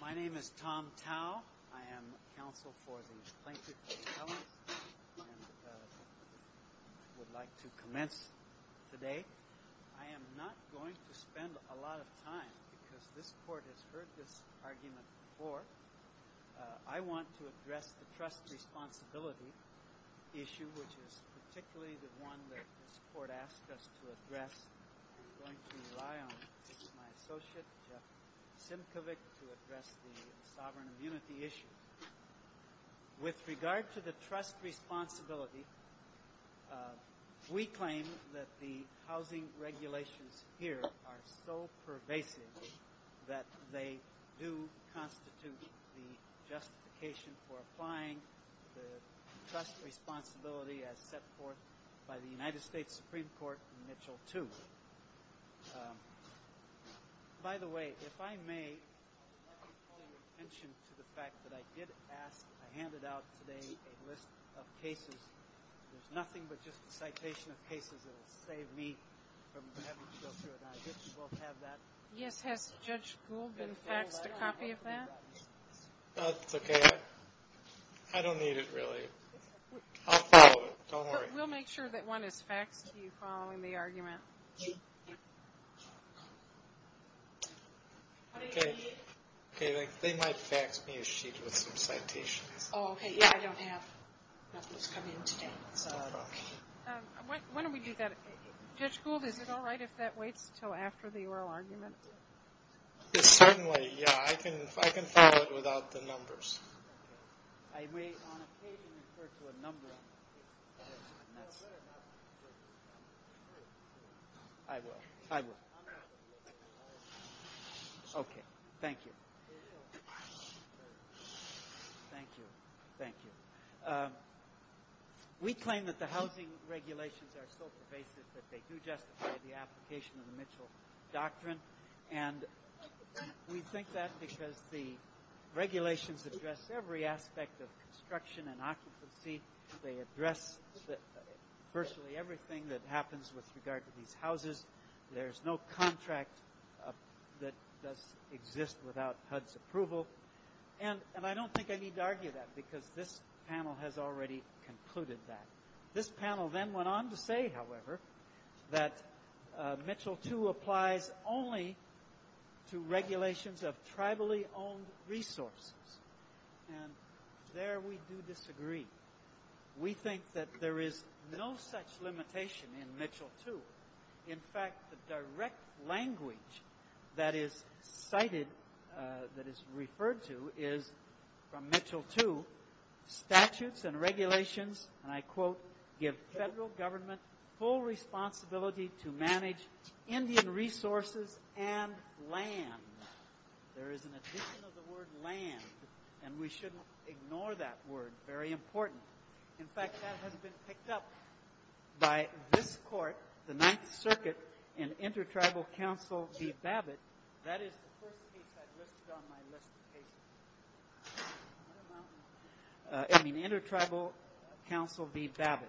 My name is Tom Cowell. I am counsel for the plaintiff's assembly and I would like to commence today. I am not going to spend a lot of time because this court has heard this argument before. I want to address the trust responsibility issue, which is particularly the one that this court asked us to address. I am going to rely on my associate Jim Kovic to address the sovereign immunity issue. With regard to the trust responsibility, we claim that the housing regulations here are so pervasive that they do constitute the justification for applying the trust responsibility as set forth by the United States Supreme Court in Mitchell 2. By the way, if I may point attention to the fact that I did ask, I handed out today a list of cases. There's nothing but just a citation of cases that will save me from having to go through it and I just won't have that. Yes, has Judge Gould been faxed a copy of that? That's okay. I don't need it really. I'll follow it. Don't worry. We'll make sure that one is faxed to you following the argument. Okay. They might fax me a sheet with the citation. Oh, okay. Yeah, I don't have. Why don't we do that? Judge Gould, is it all right if that waits until after the oral argument? Yes, certainly. Yeah, I can follow it without the numbers. I may on occasion refer to a number. I will. I will. Okay. Thank you. Thank you. Thank you. We claim that the housing regulations are so pervasive that they do justify the application of the Mitchell Doctrine and we think that's because the regulations address every aspect of construction and occupancy. They address virtually everything that happens with regard to these houses. There's no contract that exists without HUD's approval. And I don't think I need to argue that because this panel has already concluded that. This panel then went on to say, however, that Mitchell II applies only to regulations of tribally owned resources. And there we do disagree. We think that there is no such limitation in Mitchell II. In fact, the direct language that is cited, that is referred to, is from Mitchell II, statutes and regulations, and I quote, give federal government full responsibility to manage Indian resources and land. There is an addition of the word land, and we shouldn't ignore that word. Very important. In fact, that has been picked up by this court, the Ninth Circuit, in Inter-Tribal Council v. Babbitt. That is the first case I listed on my list of cases. I mean, Inter-Tribal Council v. Babbitt.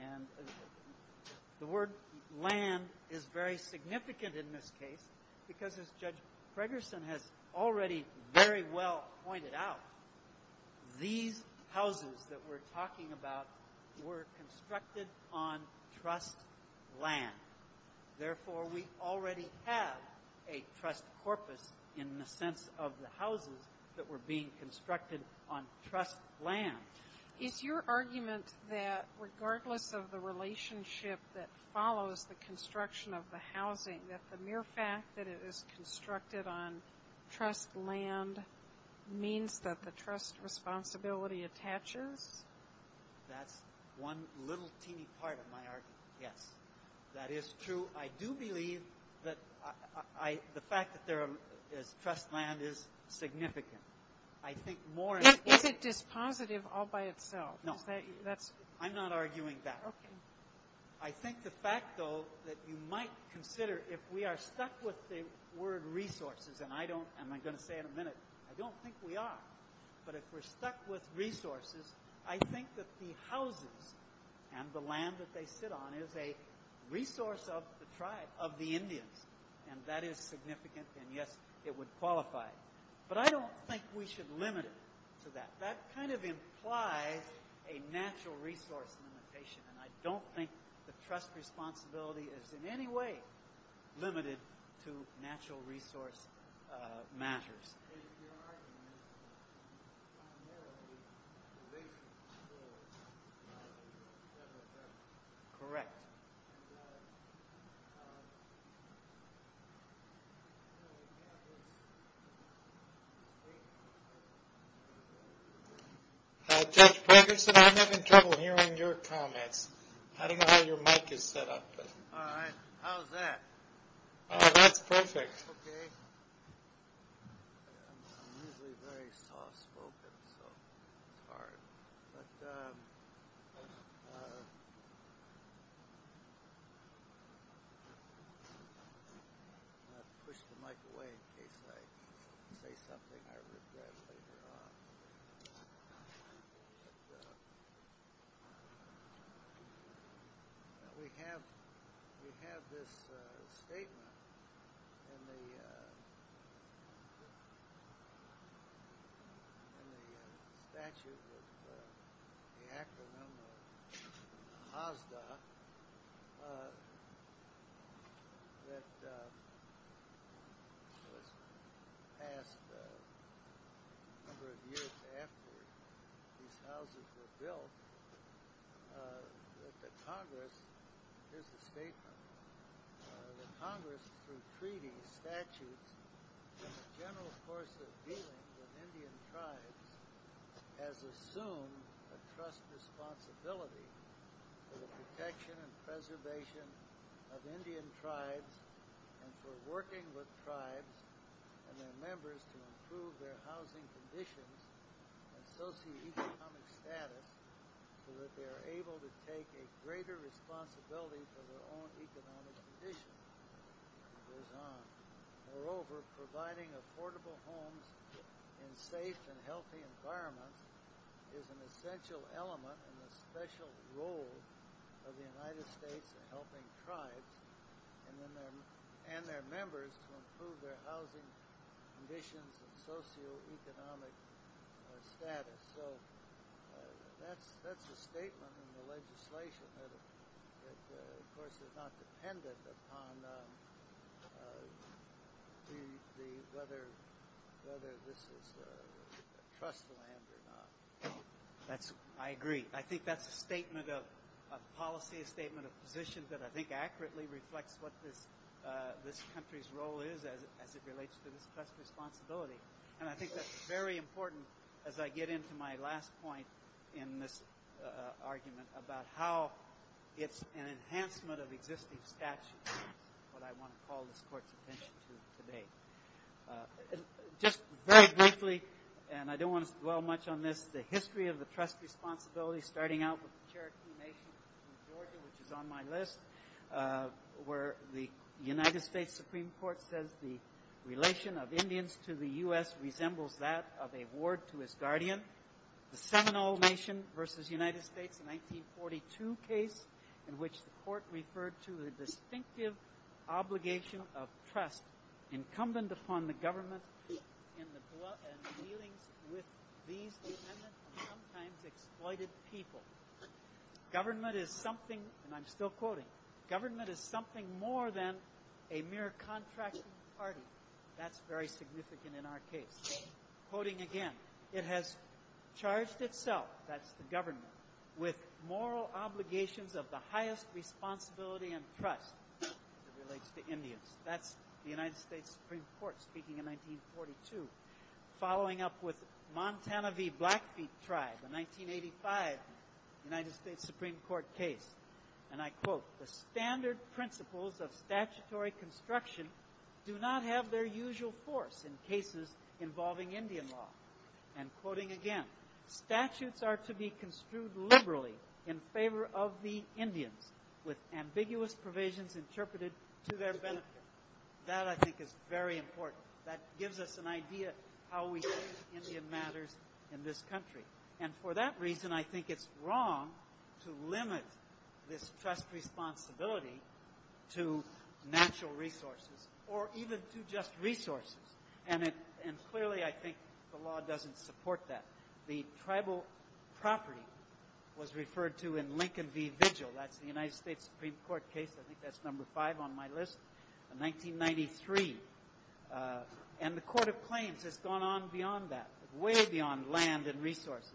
And the word land is very significant in this case because, as Judge Fregerson has already very well pointed out, these houses that we're talking about were constructed on trust land. Therefore, we already have a trust corpus in the sense of the houses that were being constructed on trust land. It's your argument that regardless of the relationship that follows the construction of the housing, that the mere fact that it is constructed on trust land means that the trust responsibility attaches? That's one little teeny part of my argument, yes. That is true. I do believe that the fact that there is trust land is significant. It's positive all by itself. No, I'm not arguing that. I think the fact, though, that you might consider if we are stuck with the word resources, and I don't, and I'm going to say it in a minute, I don't think we are, but if we're stuck with resources, I think that the houses and the land that they sit on is a resource of the tribe, of the Indians, and that is significant, and yes, it would qualify. But I don't think we should limit it to that. That kind of implies a natural resource limitation, and I don't think the trust responsibility is in any way limited to natural resource matters. Correct. Thank you. Judge Ferguson, I'm having trouble hearing your comments. I don't know how your mic is set up. All right. How's that? That's perfect. Okay. I'm going to push the mic away in case I say something I regret later on. But we have this statement in the statute of the acronym of HOSDA that passed a number of years after these houses were built, that the Congress, here's the statement, the Congress, through treaty, statute, and the general course of dealing with Indian tribes, has assumed a trust responsibility for the protection and preservation of Indian tribes and for working with tribes and their members to improve their housing conditions and socioeconomic status so that they are able to take a greater responsibility for their own economic conditions. Moreover, providing affordable homes in safe and healthy environments is an essential element of the special role of the United States in helping tribes and their members to improve their housing conditions and socioeconomic status. So that's a statement in the legislation that, of course, is not dependent upon whether this is a trust land or not. I agree. I think that's a statement of policy, a statement of position, that I think accurately reflects what this country's role is as it relates to this trust responsibility. And I think that's very important as I get into my last point in this argument about how it's an enhancement of existing statutes, what I want to call this court's attention to today. Just very briefly, and I don't want to dwell much on this, the history of the trust responsibility starting out with the Cherokee Nation, which is on my list, where the United States Supreme Court says the relation of Indians to the U.S. resembles that of a ward to a guardian. The Seminole Nation versus United States, 1942 case, in which the court referred to the distinctive obligation of trust incumbent upon the government in dealing with these sometimes exploited people. Government is something, and I'm still quoting, government is something more than a mere contract with the party. That's very significant in our case. Quoting again, it has charged itself, that's the government, with moral obligations of the highest responsibility and trust as it relates to Indians. That's the United States Supreme Court speaking in 1942. Following up with Montana v. Blackfeet tribe in 1985, United States Supreme Court case, and I quote, the standard principles of statutory construction do not have their usual force in cases involving Indian law. And quoting again, statutes are to be construed liberally in favor of the Indians with ambiguous provisions interpreted to their benefit. That, I think, is very important. That gives us an idea of how we treat Indian matters in this country. And for that reason, I think it's wrong to limit this trust responsibility to natural resources or even to just resources. And clearly, I think the law doesn't support that. The tribal property was referred to in Lincoln v. Vigil, that's the United States Supreme Court case, I think that's number five on my list, in 1993. And the Court of Claims has gone on beyond that, way beyond land and resources.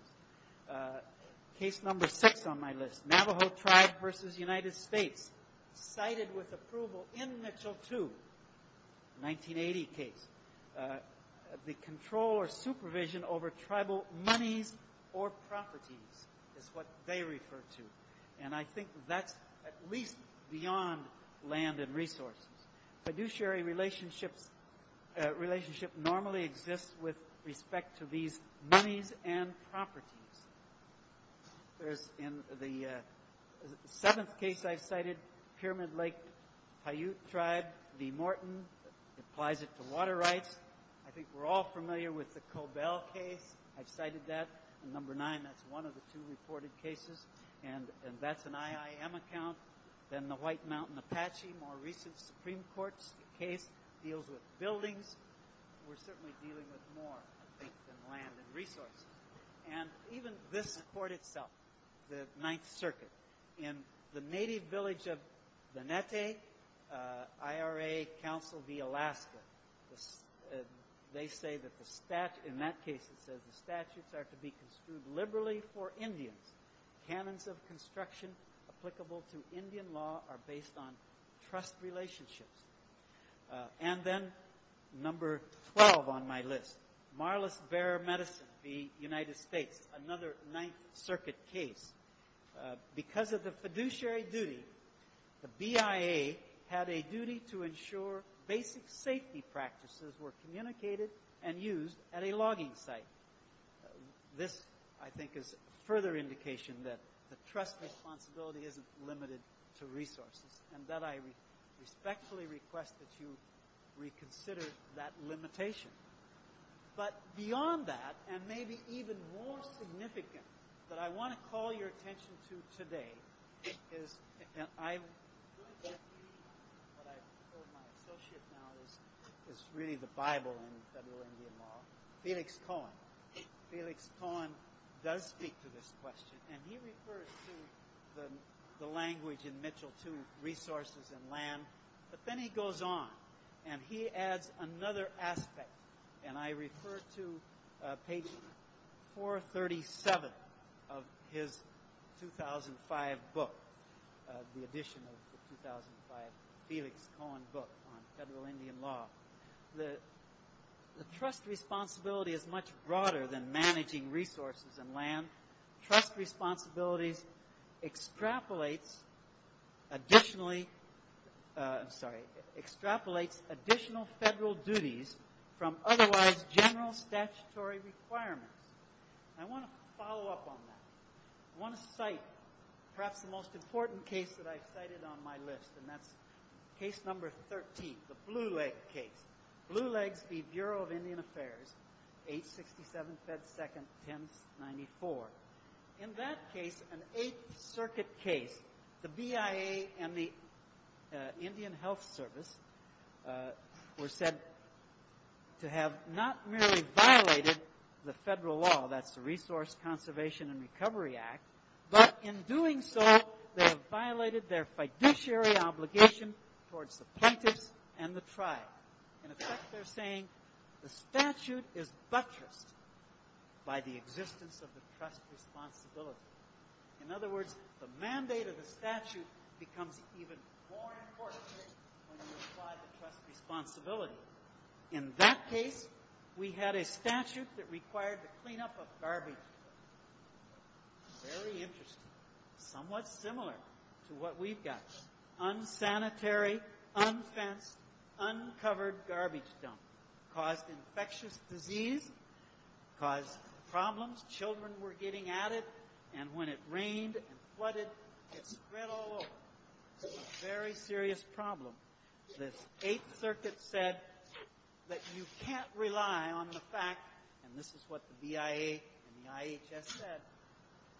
Case number six on my list, Navajo tribe v. United States, cited with approval in Mitchell II, 1980 case. The control or supervision over tribal money or property is what they refer to. And I think that's at least beyond land and resources. Fiduciary relationships normally exist with respect to these monies and properties. In the seventh case I cited, Pyramid Lake Haute tribe v. Morton, applies it to water rights. I think we're all familiar with the Cobell case. I cited that in number nine. That's one of the two reported cases. And that's an IIM account. Then the White Mountain Apache, more recent Supreme Court case, deals with buildings. We're certainly dealing with more, I think, than land and resources. And even this court itself, the Ninth Circuit, in the native village of Vanete, IRA council v. Alaska, they say that the statute, in that case it says, the statutes are to be construed liberally for Indians. Canons of construction applicable to Indian law are based on trust relationships. And then number 12 on my list, Marlis Bear Medicine v. United States, another Ninth Circuit case. Because of the fiduciary duty, the BIA had a duty to ensure basic safety practices were communicated and used at a logging site. This, I think, is a further indication that the trust responsibility isn't limited to resources. And that I respectfully request that you reconsider that limitation. But beyond that, and maybe even more significant, that I want to call your attention to today, and I, what I call my associate now is really the Bible in federal Indian law, Felix Cohen. Felix Cohen does speak to this question. And he refers to the language in Mitchell II, resources and land. But then he goes on, and he adds another aspect. And I refer to page 437 of his 2005 book, the edition of the 2005 Felix Cohen book on federal Indian law. The trust responsibility is much broader than managing resources and land. Trust responsibility extrapolates additional federal duties from otherwise general statutory requirements. I want to follow up on that. I want to cite perhaps the most important case that I've cited on my list, and that's case number 13, the Blue Legs case. 867 said 2nd, 1094. In that case, an Eighth Circuit case, the BIA and the Indian Health Service were said to have not merely violated the federal law, that's the Resource Conservation and Recovery Act, but in doing so they have violated their fiduciary obligation towards the plaintiffs and the tribe. In effect, they're saying the statute is buttressed by the existence of the trust responsibility. In other words, the mandate of the statute becomes even more important than the trust responsibility. In that case, we had a statute that required the cleanup of garbage. Very interesting. Somewhat similar to what we've got. Unsanitary, unfenced, uncovered garbage dumps caused infectious disease, caused problems. Children were getting at it, and when it rained and flooded, it spread all over. It was a very serious problem. The Eighth Circuit said that you can't rely on the fact, and this is what the BIA and the IHS said,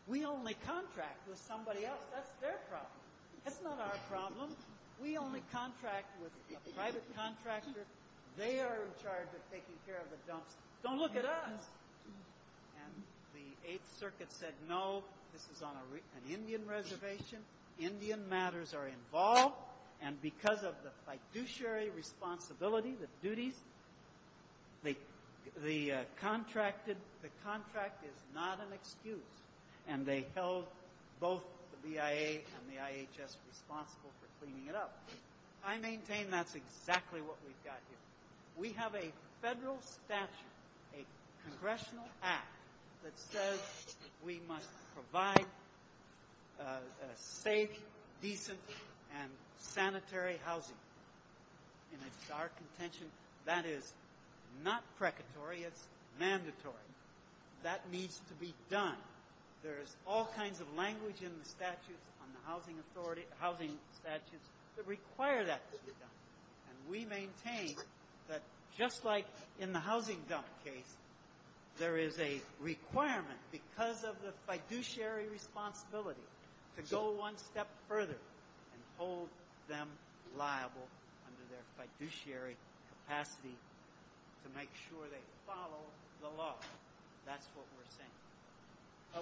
we only contract with somebody else. That's their problem. That's not our problem. We only contract with a private contractor. They are in charge of taking care of the dumps. Don't look at us. And the Eighth Circuit said no, this is on an Indian reservation. Indian matters are involved, and because of the fiduciary responsibility, the duties, the contract is not an excuse, and they held both the BIA and the IHS responsible for cleaning it up. I maintain that's exactly what we've got here. We have a federal statute, a congressional act, that says we must provide safe, decent, and sanitary housing. In our contention, that is not precatory. It's mandatory. That needs to be done. There is all kinds of language in the statute on the housing statutes that require that to be done, and we maintain that just like in the housing dump case, there is a requirement, because of the fiduciary responsibility, to go one step further and hold them liable under their fiduciary capacity to make sure they follow the law. That's what we're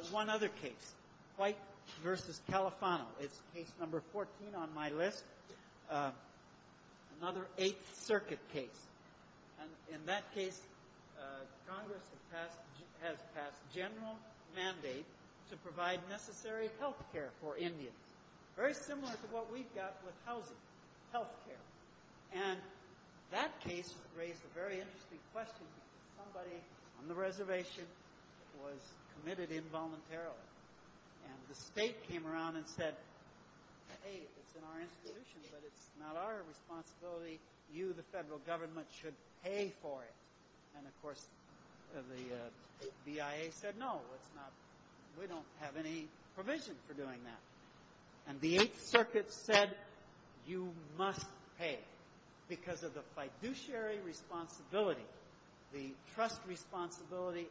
saying. One other case, Pike v. Califano. It's case number 14 on my list, another Eighth Circuit case. In that case, Congress has passed a general mandate to provide necessary health care for Indians, very similar to what we've got with housing, health care. And that case raised a very interesting question. Somebody on the reservation was committed involuntarily, and the state came around and said, Hey, it's in our institution, but it's not our responsibility. You, the federal government, should pay for it. And, of course, the BIA said, No, we don't have any provision for doing that. And the Eighth Circuit said, You must pay, because of the fiduciary responsibility, the trust responsibility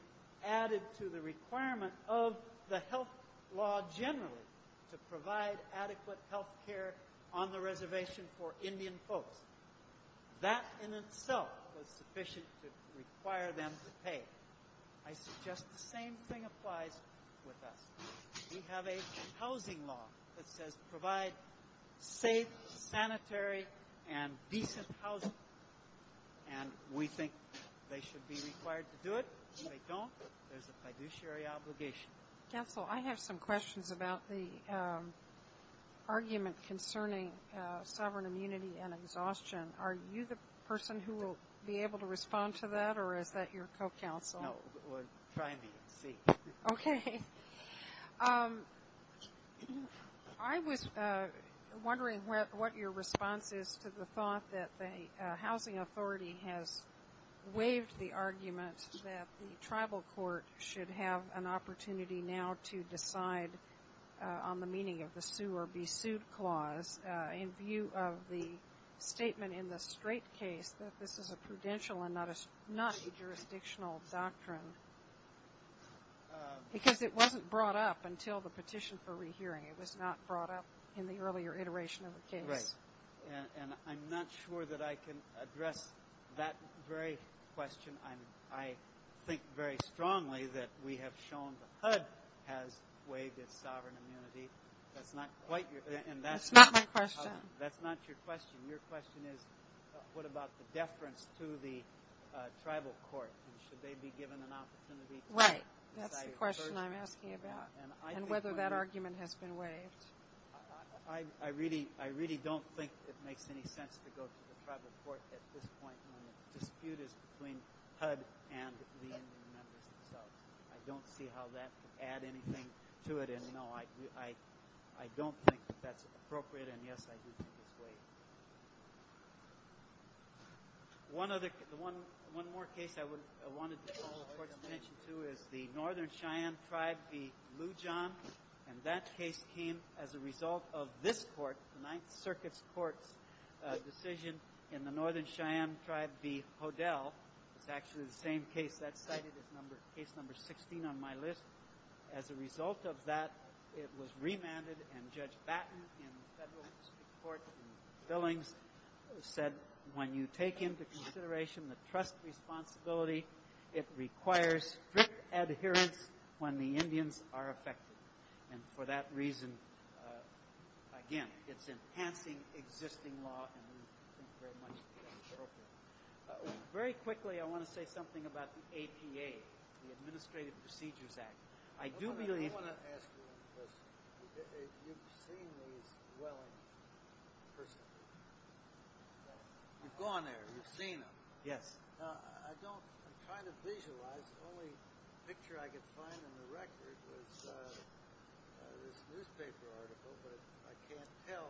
added to the requirement of the health law generally to provide adequate health care on the reservation for Indian folks. That in itself was sufficient to require them to pay. I suggest the same thing applies with us. We have a housing law that says provide safe, sanitary, and decent housing. And we think they should be required to do it. If they don't, there's a fiduciary obligation. Counsel, I have some questions about the argument concerning sovereign immunity and exhaustion. Are you the person who will be able to respond to that, or is that your co-counsel? No, try me. Okay. I was wondering what your response is to the thought that the housing authority has waived the argument that the tribal court should have an opportunity now to decide on the meaning of the sue or be sued clause in view of the statement in the straight case that this is a prudential and not a jurisdictional doctrine. Because it wasn't brought up until the petition for rehearing. It was not brought up in the earlier iteration of the case. Right. And I'm not sure that I can address that very question. I think very strongly that we have shown the HUD has waived its sovereign immunity. That's not quite your question. That's not my question. That's not your question. Your question is what about the deference to the tribal court? Should they be given an opportunity to decide? Right. That's the question I'm asking about and whether that argument has been waived. I really don't think it makes any sense to go to the tribal court at this point when the dispute is between HUD and the Indian National Guard. I don't see how that could add anything to it. And, no, I don't think that that's appropriate. And, yes, I do think it's waived. One more case I wanted to draw attention to is the Northern Cheyenne tribe v. Lujan. And that case came as a result of this court, the Ninth Circuit's court decision in the Northern Cheyenne tribe v. Podell. It's actually the same case I cited as case number 16 on my list. As a result of that, it was remanded. And Judge Batten in the federal district court in Billings said, when you take into consideration the trust responsibility, it requires strict adherence when the Indians are affected. And for that reason, again, it's enhancing existing law. Very quickly, I want to say something about the ATA, the Administrative Procedures Act. I do believe— I want to ask you one question. It's extremely well-perceived. You've gone there. You've seen them. Yes. I don't—I'm trying to visualize. The only picture I could find in the records was this paper article, but I can't tell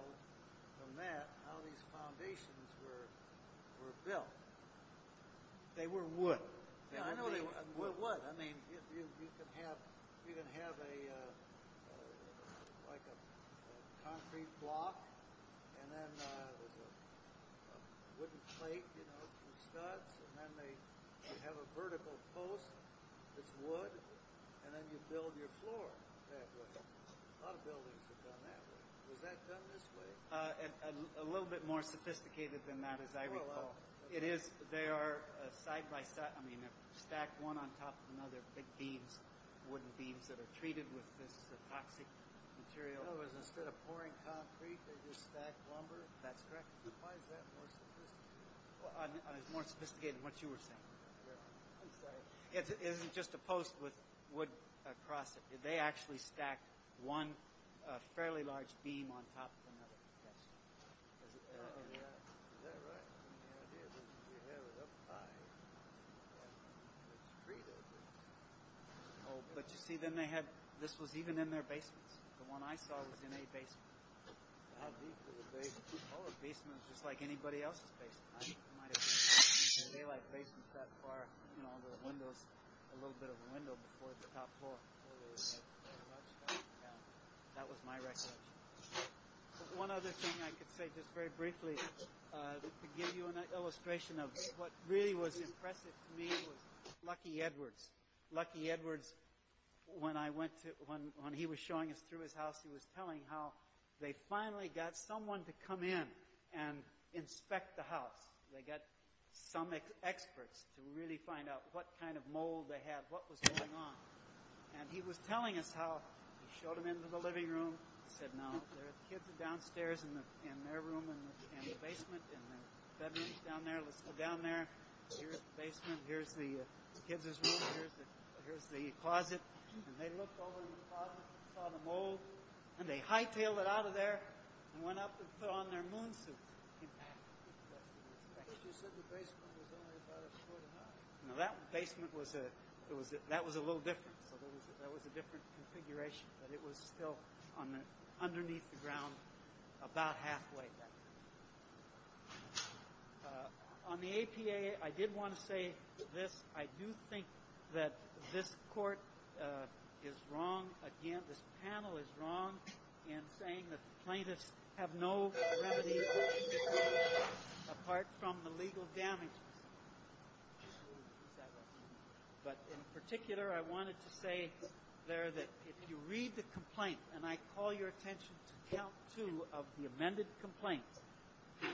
from that how these foundations were built. They were wood. Wood, what? I mean, you can have like a concrete block and then wooden plate, you know, some stuff, and then they have a vertical post that's wood, and then you build your floor. A lot of buildings have done that. Was that done this way? A little bit more sophisticated than that, as I recall. It is. They are side-by-side. I mean, they're stacked one on top of another, big beams, wooden beams that are treated with the toxic material. So instead of pouring concrete, they're just stacked over it? That's correct. Why is that more sophisticated? It's more sophisticated than what you were saying. Okay. It's just opposed with wood across it. They actually stack one fairly large beam on top of another. Is that right? But you see, this was even in their basement. The one I saw was in their basement. All the basements were just like anybody else's basements. They had basements that far, you know, on the windows, a little bit of a window towards the top floor. That was my recollection. One other thing I could say, just very briefly, just to give you an illustration of what really was impressive to me was Lucky Edwards. Lucky Edwards, when he was showing us through his house, he was telling how they finally got someone to come in and inspect the house. They got some experts to really find out what kind of mold they had, what was going on. And he was telling us how he showed them into the living room. He said, now, the kids are downstairs in their room in the basement, and then Debbie's down there. Let's go down there. Here's the basement. Here's the kids' room. Here's the closet. And they looked over in the closet, saw the mold, and they high-tailed it out of there and went up and put on their moon suits. Now, that basement was a little different. That was a different configuration, but it was still underneath the ground about halfway. On the APA, I did want to say this. I do think that this court is wrong. Again, this panel is wrong in saying that plaintiffs have no remedy apart from the legal damage. Just a second. But in particular, I wanted to say there that if you read the complaint, and I call your attention to count two of the amended complaint,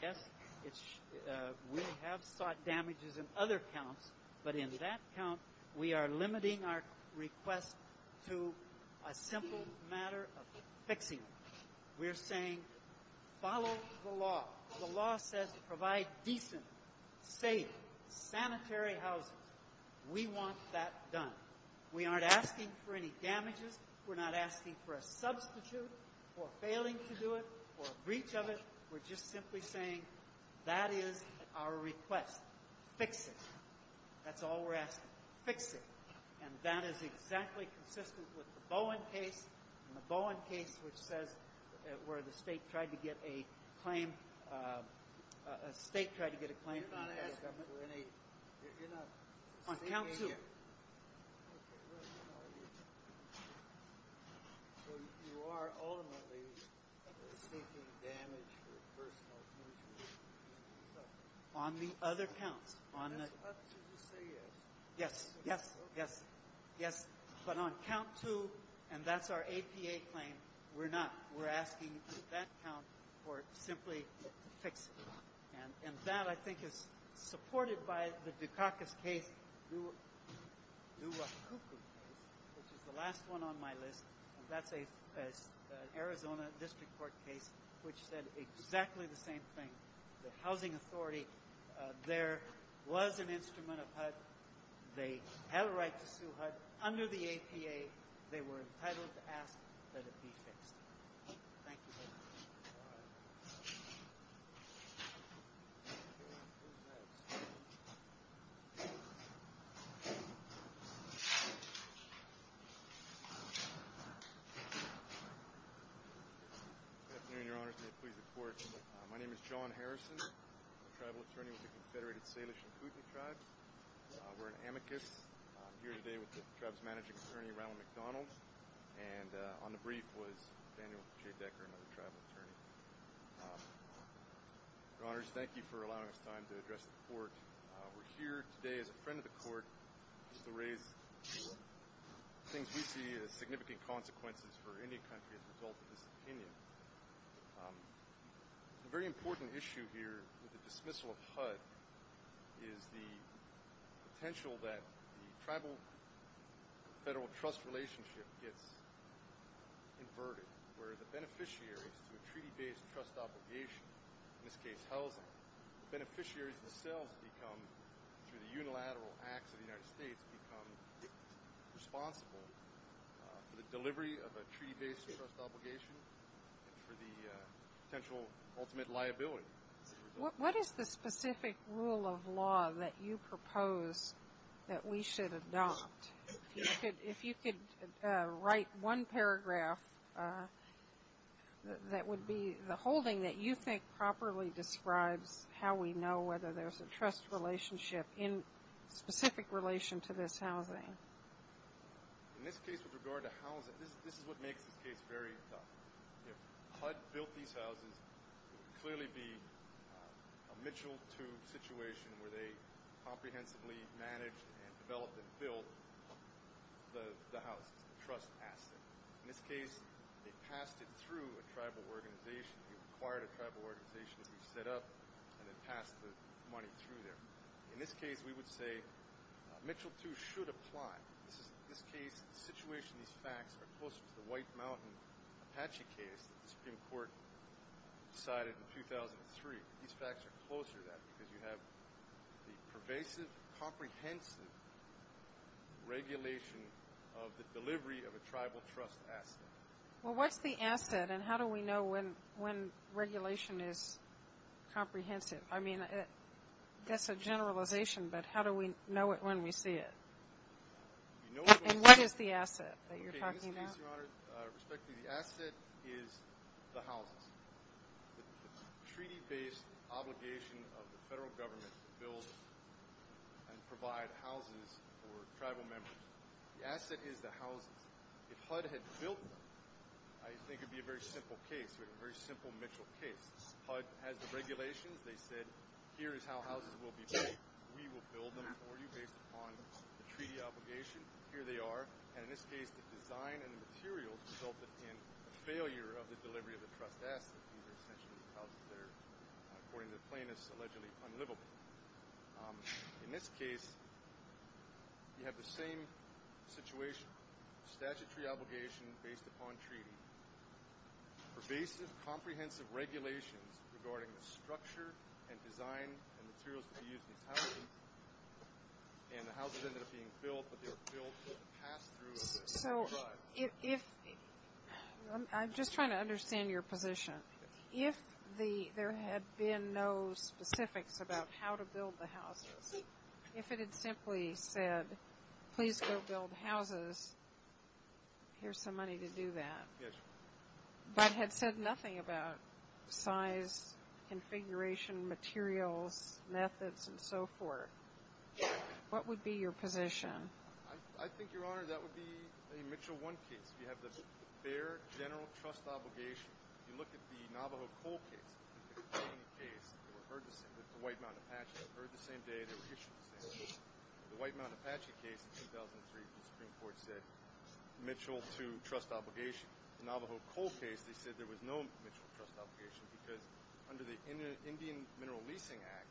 yes, we have spot damages in other counts, but in that count we are limiting our request to a simple matter of fixing it. We're saying follow the law. The law says to provide decent, safe, sanitary housing. We want that done. We aren't asking for any damages. We're not asking for a substitute or failing to do it or a breach of it. We're just simply saying that is our request. Fix it. That's all we're asking. Fix it. And that is exactly consistent with the Bowen case, and the Bowen case was where the state tried to get a claim. A state tried to get a claim. You're not asking for any. You're not. On count two. So you are only taking damage to the person. On the other count. That's what the state is. Yes, yes, yes. But on count two, and that's our APA claim, we're not. We're asking for that count or simply fix it. And that I think is supported by the Dukakis case, which is the last one on my list. That's an Arizona district court case which said exactly the same thing. The housing authority there was an instrument of HUD. They have a right to sue HUD under the APA. They were entitled to ask that it be fixed. Thank you very much. Good afternoon, Your Honor. Please report. My name is John Harrison. I'm a tribal attorney with the Confederated Salish and Kootenai Tribes. We're an amicus. I'm here today with the tribe's managing attorney, Ronald McDonald, and on the brief was Daniel J. Decker, another tribal attorney. Your Honors, thank you for allowing us time to address the court. We're here today as a friend of the court to raise the things we see as significant consequences for any country in the Gulf of India. A very important issue here with the dismissal of HUD is the potential that the tribal federal trust relationship gets inverted where the beneficiaries to a treaty-based trust obligation, in this case housing, the beneficiaries themselves become, through the unilateral acts of the United States, become responsible for the delivery of a treaty-based trust obligation for the potential ultimate liability. What is the specific rule of law that you propose that we should adopt? If you could write one paragraph that would be the whole thing that you think properly describes how we know whether there's a trust relationship in specific relation to this housing. In this case with regard to housing, this is what makes the case very tough. If HUD built these houses, it would clearly be a Mitchell II situation where they comprehensively managed and developed and built the house, the trust aspect. In this case, they passed it through a tribal organization. They acquired a tribal organization to be set up, and they passed the money through there. In this case, we would say Mitchell II should apply. In this case, the situation, these facts are closer to the White Mountain Apache case. It's been court-decided in 2003. These facts are closer to that because you have the pervasive, comprehensive regulation of the delivery of a tribal trust asset. Well, what's the asset, and how do we know when regulation is comprehensive? I mean, that's a generalization, but how do we know it when we see it? And what is the asset that you're talking about? The asset is the house. Treaty-based obligation of the federal government to build and provide houses for tribal members. The asset is the house. If HUD had built it, I think it would be a very simple case, a very simple Mitchell case. HUD had the regulations. They said, here is how houses will be built. We will build them for you based upon the treaty obligation. Here they are. And in this case, the design and the materials resulted in the failure of the delivery of the trust asset to do this essentially because they're, according to plaintiffs, allegedly unlivable. In this case, you have the same situation. Statutory obligation based upon treaty. Basic, comprehensive regulation regarding the structure and design and materials to be used in housing. And the houses ended up being built, but they were built with the pass-through of the HUD. I'm just trying to understand your position. If there had been no specifics about how to build the houses, if it had simply said, please go build houses, here's the money to do that, but had said nothing about size, configuration, materials, methods, and so forth, what would be your position? I think, Your Honor, that would be a Mitchell I case. You have the fair general trust obligation. If you look at the Navajo coal case, the White Mountain Apache, you heard the same day it was issued. The White Mountain Apache case in 2003, the Supreme Court said Mitchell II trust obligation. Navajo coal case, they said there was no Mitchell trust obligation because under the Indian Mineral Leasing Act,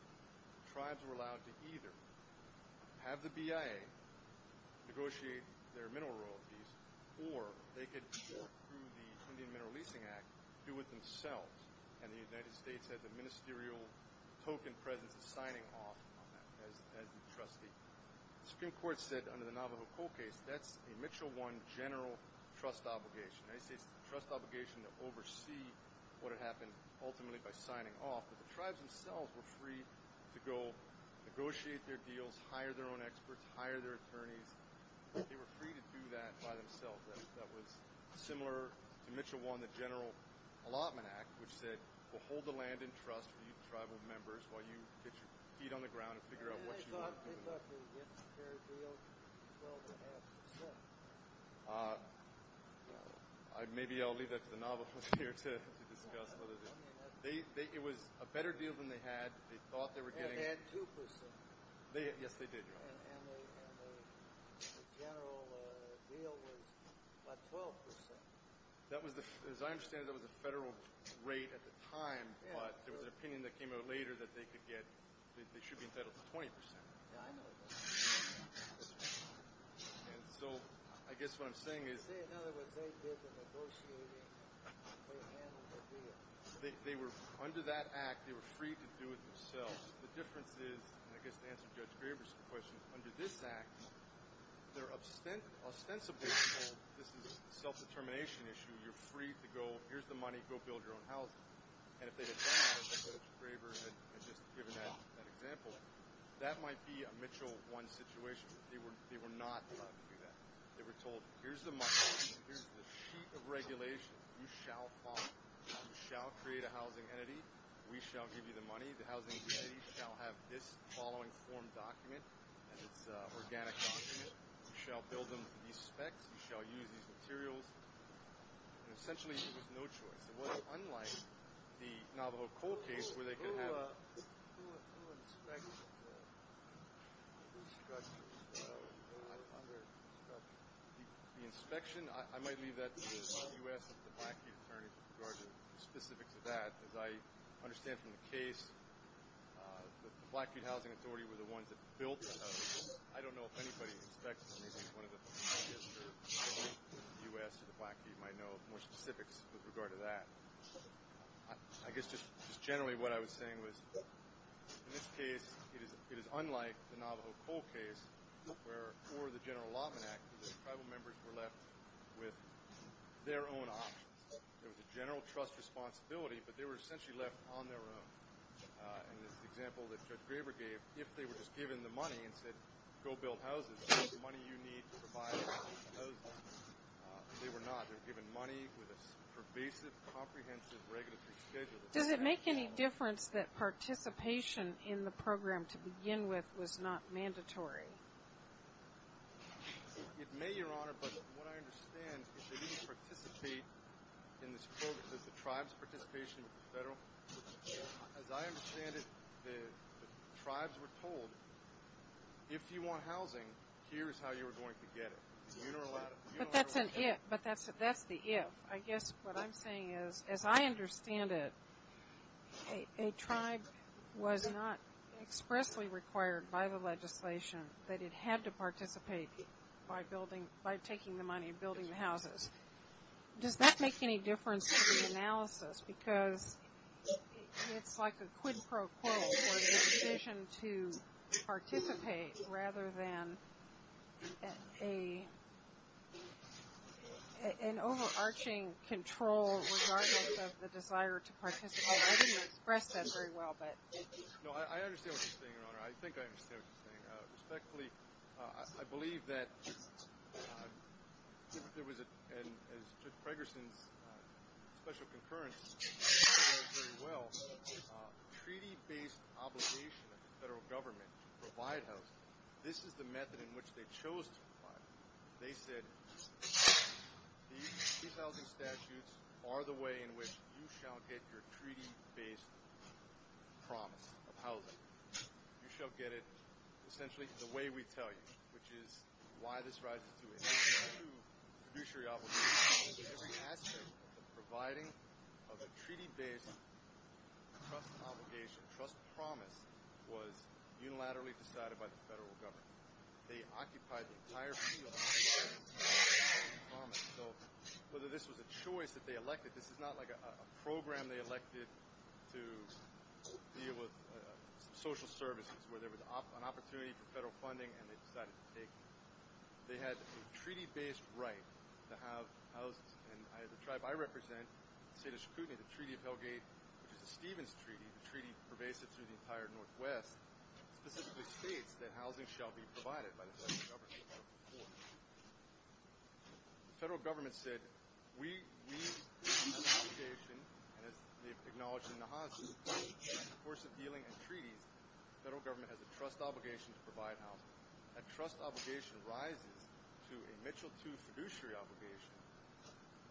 tribes were allowed to either have the BIA negotiate their mineral royalties or they could, through the Indian Mineral Leasing Act, do it themselves. And the United States has a ministerial token presence in signing off as a trustee. The Supreme Court said under the Navajo coal case, that's a Mitchell I general trust obligation. The United States has a trust obligation to oversee what would happen ultimately by signing off, but the tribes themselves were free to go negotiate their deals, hire their own experts, hire their attorneys. They were free to do that by themselves. That was similar to Mitchell I, the General Allotment Act, which said to hold the land in trust with tribal members while you get your feet on the ground and figure out what you want to do with it. Maybe I'll leave that to the Navajos here to discuss. It was a better deal than they had. They thought they were getting it. Yes, they did. The general deal was about 12 percent. As I understand it, it was a federal rate at the time, but there was an opinion that came out later that they should be entitled to 20 percent. Yes, I know. Under that act, they were free to do it themselves. The difference is, and I guess to answer Judge Graber's question, under this act, there are ostensibly self-determination issues. You're free to go, here's the money, go build your own house. If they had done that, as Judge Graber had just given as an example, that might be a Mitchell I situation. They were not allowed to do that. They were told, here's the money, here's the sheet of regulation, you shall create a housing entity, we shall give you the money, the housing entity shall have this following form document, this organic document. You shall build them to these specs. You shall use these materials. Essentially, there was no choice. It was unlike the Navajo cold case where they could have— The inspection, I might leave that to the U.S. or the Blackfeet attorney specific to that. As I understand from the case, the Blackfeet Housing Authority were the ones that built it. I don't know if anybody inspects anything, one of the U.S. or the Blackfeet might know more specifics with regard to that. I guess just generally what I was saying was, in this case, it is unlike the Navajo cold case where, for the general lawman act, the tribal members were left with their own options. There was a general trust responsibility, but they were essentially left on their own. In the example that Judge Graber gave, if they were just given the money and said, go build houses, here's the money you need to provide housing, they were not. They were given money with a pervasive, comprehensive, regulatory schedule. Does it make any difference that participation in the program to begin with was not mandatory? It may, Your Honor, but what I understand is that they didn't participate in the tribes' participation with the federal. As I understand it, the tribes were told, if you want housing, here's how you're going to get it. But that's the if. I guess what I'm saying is, as I understand it, a tribe was not expressly required by the legislation that it had to start taking the money and building the houses. Does that make any difference to the analysis? Because it's like a quid pro quo for the decision to participate, rather than an overarching control regardless of the desire to participate. I didn't express that very well. No, I understand what you're saying, Your Honor. I think I understand what you're saying. Secondly, I believe that there was a Ferguson special concurrence, which I understand very well, a treaty-based obligation of the federal government to provide housing. This is the method in which they chose to provide it. They said these housing statutes are the way in which you shall get your treaty-based promise of housing. You shall get it essentially the way we tell you, which is why this right is due. It's due to fiduciary obligations. Every action of providing of a treaty-based trust obligation, trust promise, was unilaterally decided by the federal government. They occupied the entire field. So whether this was a choice that they elected, this is not like a program they elected to deal with social services where there was an opportunity for federal funding, and they had a treaty-based right to have housing. The tribe I represent, the State of Chattanooga, the Treaty of Hell Gate, which is Stephen's Treaty, a treaty pervasive through the entire Northwest, specifically states that housing shall be provided by the federal government. The federal government said, we acknowledge in the housing force of dealing and treaty, the federal government has a trust obligation to provide housing. That trust obligation rises to a Mitchell II fiduciary obligation.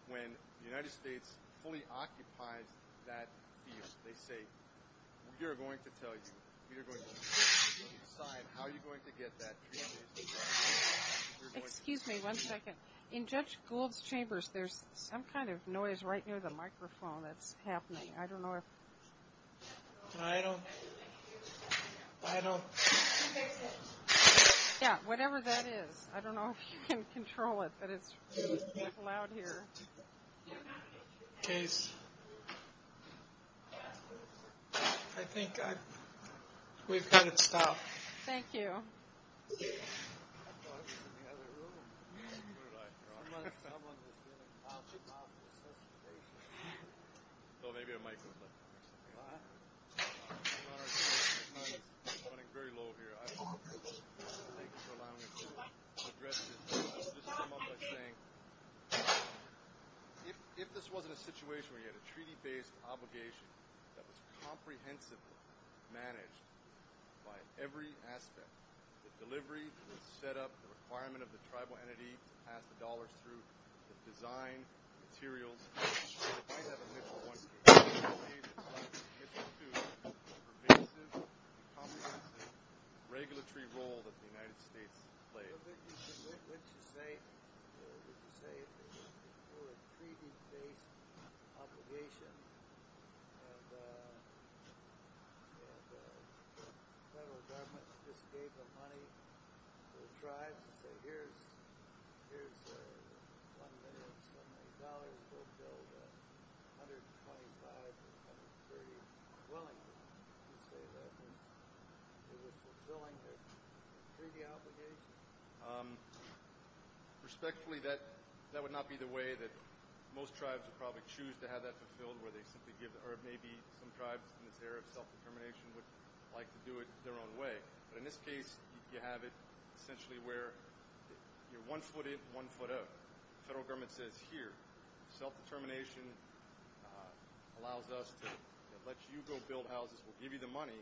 When the United States fully occupies that field, they say, we are going to tell you, we are going to tell you how you're going to get that deal. Excuse me one second. In Judge Gould's chambers, there's some kind of noise right near the microphone. That's happening. I don't know if... I don't... I don't... Yeah, whatever that is. I don't know if you can control it, but it's loud here. Okay. I think we've got to stop. Thank you. I thought it was... Well, maybe I might... I'm running very low here. If this wasn't a situation where you had a treaty-based obligation that was comprehensively managed by every aspect, the delivery, the set-up, the requirement of the tribal entity to pass dollars through, the design, materials... regulatory role that the United States plays. I don't think this is a mistake to say it was a treaty-based obligation that the federal government just gave the money to the tribes and said, here's $125,000, but $125,000 is very unwilling to take that money. Is it fulfilling the treaty obligation? Respectfully, that would not be the way that most tribes would probably choose to have that fulfilled, or maybe some tribes in the area of self-determination would like to do it their own way. But in this case, you have it essentially where you're one foot in, one foot out. The federal government says, here, self-determination allows us to let you go build houses, we'll give you the money,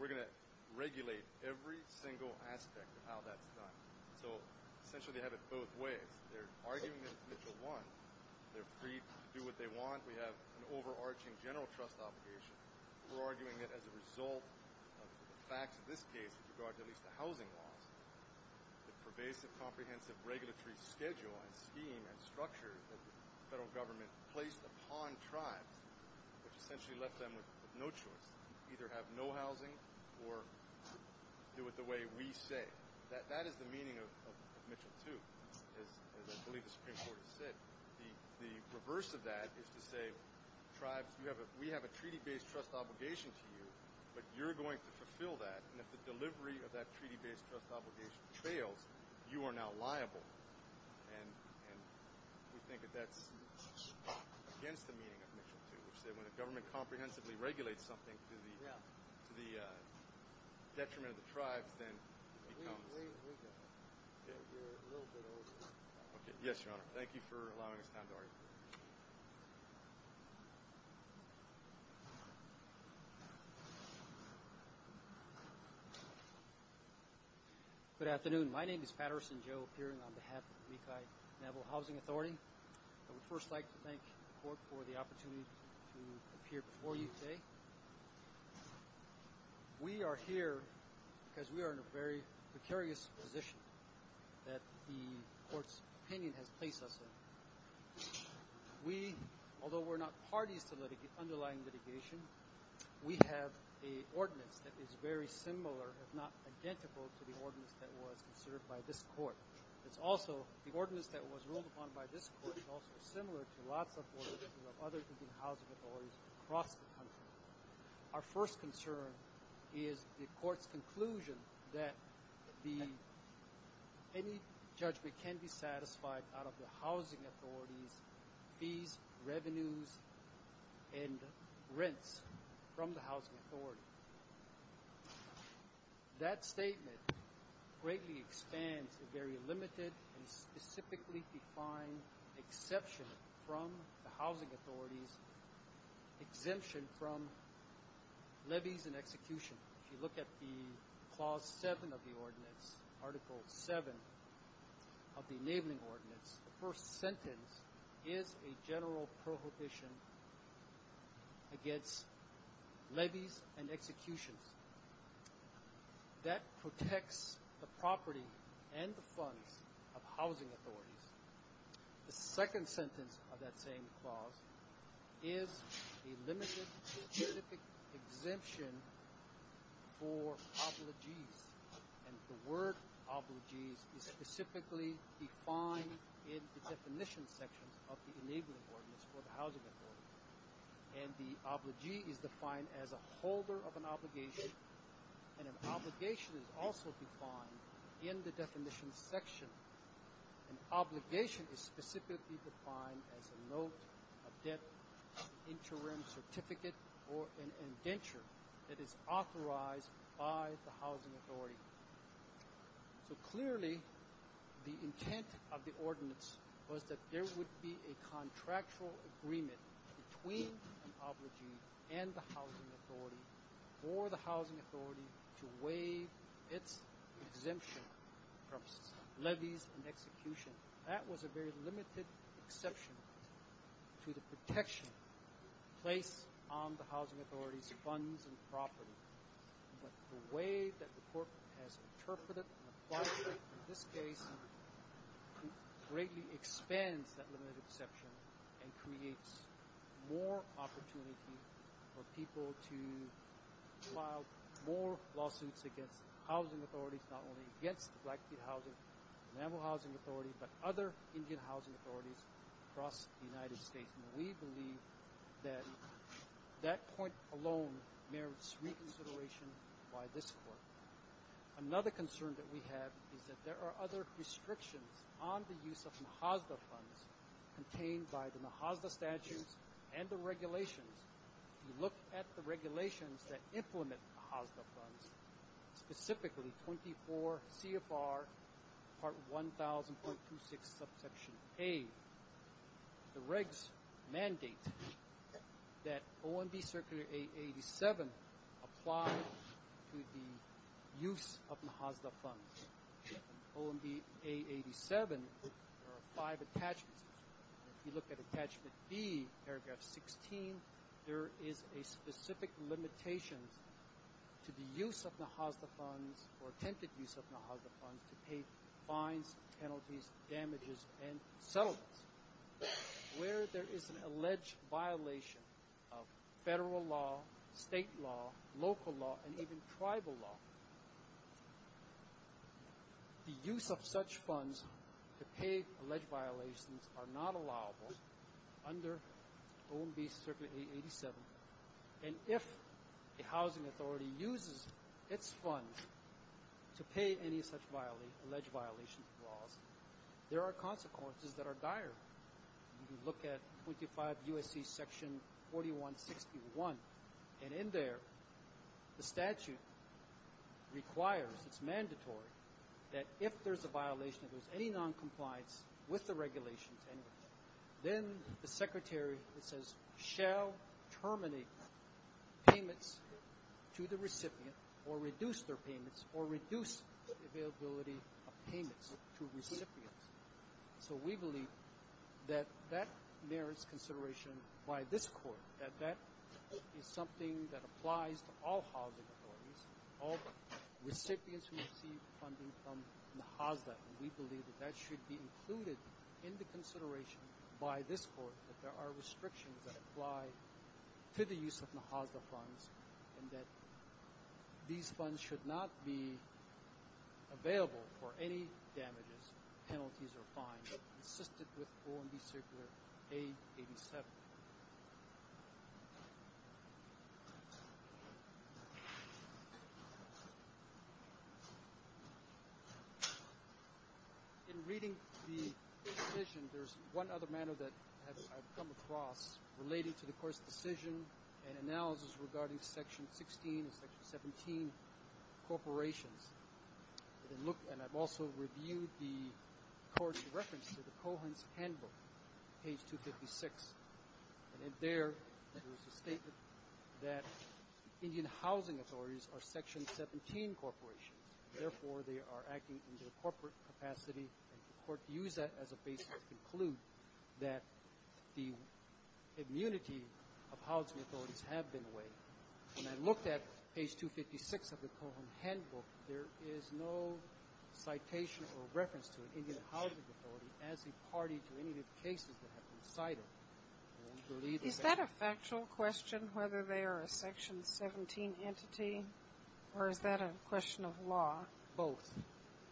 we're going to regulate every single aspect of how that's done. So, essentially, they have it both ways. They're arguing this mutual want. They're free to do what they want. We have an overarching general trust obligation. We're arguing it as a result of the facts of this case, with regard to at least the housing laws. The pervasive, comprehensive regulatory schedule and scheme and structure that the federal government placed upon tribes essentially left them with no choice. Either have no housing, or do it the way we say. That is the meaning of Mission 2, as I believe the Supreme Court has said. The reverse of that is to say, we have a treaty-based trust obligation scheme, but you're going to fulfill that, and if the delivery of that treaty-based trust obligation fails, you are now liable. And we think that that's against the meaning of Mission 2, which is that when a government comprehensively regulates something to the detriment of the tribe, then... Yes, Your Honor. Thank you for allowing me to have the right to speak. Thank you. Good afternoon. My name is Patterson Joe, appearing on behalf of the Lehigh Naval Housing Authority. I would first like to thank the Court for the opportunity to appear before you today. We are here because we are in a very precarious position that the Court's opinion has placed us in. We, although we're not parties to the underlying litigation, we have an ordinance that is very similar, if not identical, to the ordinance that was observed by this Court. It's also, the ordinance that was ruled upon by this Court is also similar to a lot of other housing authorities across the country. Our first concern is the Court's conclusion that any judgment can be satisfied out of the housing authority on fees, revenues, and rents from the housing authority. That statement greatly expands the very limited and specifically defined exception from the housing authority's exemption from levies and execution. If you look at the Clause 7 of the ordinance, Article 7 of the Enabling Ordinance, the first sentence is a general prohibition against levies and execution. That protects the property and the funds of housing authorities. The second sentence of that same clause is a limited and specific exemption for obligees. The word obligee is specifically defined in the definition section of the Enabling Ordinance for the housing authority. The obligee is defined as a holder of an obligation, and an obligation is also defined in the definition section. An obligation is specifically defined as a note of debt, an interim certificate, or an indenture that is authorized by the housing authority. So clearly, the intent of the ordinance was that there would be a contractual agreement between the obligee and the housing authority for the housing authority to waive its exemption from levies and execution. That was a very limited exception to the protection placed on the housing authority's funds and property. But the way that the court has interpreted and applied it in this case greatly expands that limited exception and creates more opportunity for people to file more lawsuits against housing authorities, not only against the Blackfeet Housing and Animal Housing Authority, but other Indian housing authorities across the United States. We believe that that point alone merits reconsideration by this court. Another concern that we have is that there are other restrictions on the use of MHAZDA funds contained by the MHAZDA statutes and the regulations. If you look at the regulations that implement MHAZDA funds, specifically 24 CFR Part 1000.26 of Section 8, the regs mandate that OMB Circular A87 applies to the use of MHAZDA funds. OMB A87, there are five attachments. If you look at Attachment B, paragraph 16, there is a specific limitation to the use of MHAZDA funds to pay fines, penalties, damages, and settlements. Where there is an alleged violation of federal law, state law, local law, and even tribal law, the use of such funds to pay alleged violations are not allowable under OMB Circular A87. And if the housing authority uses its funds to pay any such alleged violations of law, there are consequences that are dire. If you look at 25 U.S.C. Section 4161, and in there, the statute requires, it's mandatory, that if there's a violation of any noncompliance with the regulations, then the Secretary, it says, shall terminate payments to the recipient or reduce their payments or reduce the availability of payments to recipients. So we believe that that merits consideration by this Court, that that is something that applies to all housing authorities, all recipients who receive funding from MHAZDA. And we believe that that should be included into consideration by this Court, that there are restrictions that apply to the use of MHAZDA funds and that these funds should not be available for any damages, penalties, or fines that are consistent with OMB Circular A87. In reading the decision, there's one other matter that I've come across related to the Court's decision and analysis regarding Section 16 and Section 17 corporations. And I've also reviewed the Court's reference to the Cohens Handbook, page 256. And there, it was stated that Indian housing authorities are Section 17 corporations, therefore they are acting in their corporate capacity. And the Court used that as a basis to conclude that the immunity of housing authorities have been waived. When I looked at page 256 of the Cohens Handbook, there is no citation or reference to an Indian housing authority as the party to any of the cases that have been cited. Is that a factual question, whether they are a Section 17 entity, or is that a question of law? Both.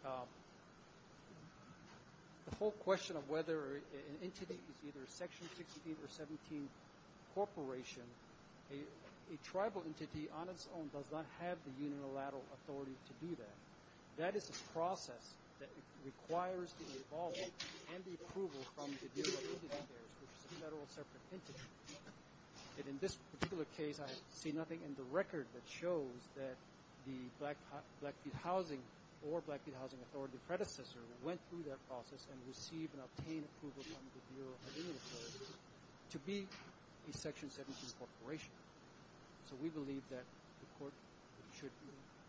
The whole question of whether an entity is either a Section 16 or 17 corporation, a tribal entity on its own does not have the unilateral authority to do that. That is a process that requires the involvement and the approval from the Indian housing authorities, which is a federal separate entity. In this particular case, I see nothing in the record that shows that the Blackfeet Housing or Blackfeet Housing Authority predecessor went through that process and received and obtained approval from the Bureau of Indian Affairs to be a Section 17 corporation. So we believe that the Court should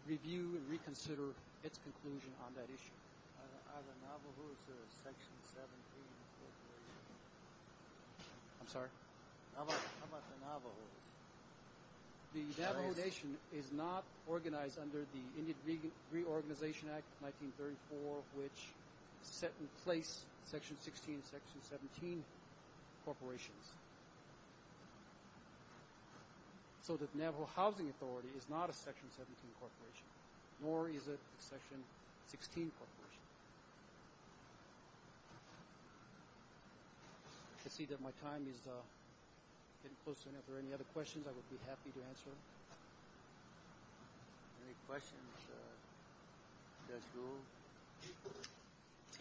review and reconsider its conclusion on that issue. The Navajo Nation is not organized under the Indian Reorganization Act of 1934, which set in place Section 16 and Section 17 corporations. So the Navajo Housing Authority is not a Section 17 corporation, nor is it a Section 16 corporation. I can see that my time is getting closer. If there are any other questions, I would be happy to answer them. Any questions?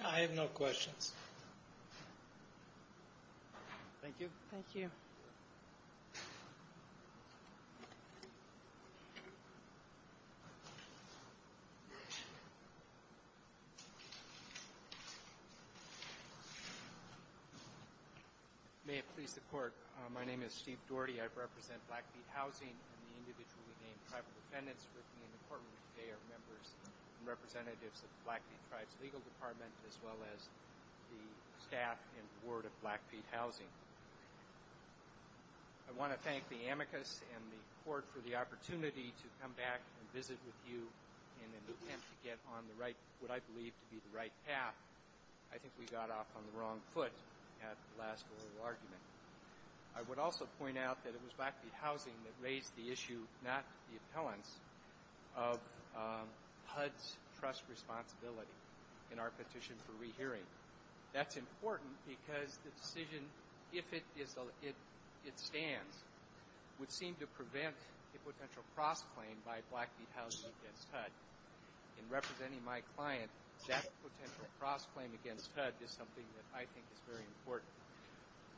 I have no questions. Thank you. Thank you. May it please the Court. My name is Steve Doherty. I represent Blackfeet Housing and the individually named private defendants within the Department of Jail. Members and representatives of the Blackfeet Tribes Legal Department as well as the staff and Board of Blackfeet Housing. I want to thank the amicus and the Court for the opportunity to come back and visit with you and get on what I believe to be the right path. I think we got off on the wrong foot at the last little argument. I would also point out that it was Blackfeet Housing that raised the issue, if not the appellant, of HUD's trust responsibility in our petition for rehearing. That's important because the decision, if it stands, would seem to prevent a potential cross-claim by Blackfeet Housing against HUD. In representing my client, that potential cross-claim against HUD is something that I think is very important.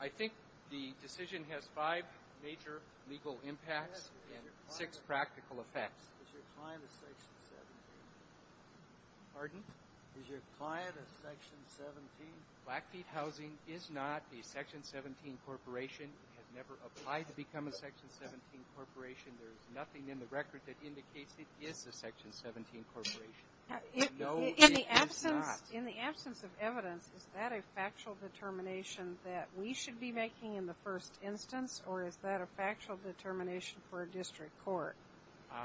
I think the decision has five major legal impacts and six practical effects. Is your client a Section 17? Pardon? Is your client a Section 17? Blackfeet Housing is not a Section 17 corporation. It has never applied to become a Section 17 corporation. There is nothing in the record that indicates it is a Section 17 corporation. In the absence of evidence, is that a factual determination that we should be making in the first instance, or is that a factual determination for a district court?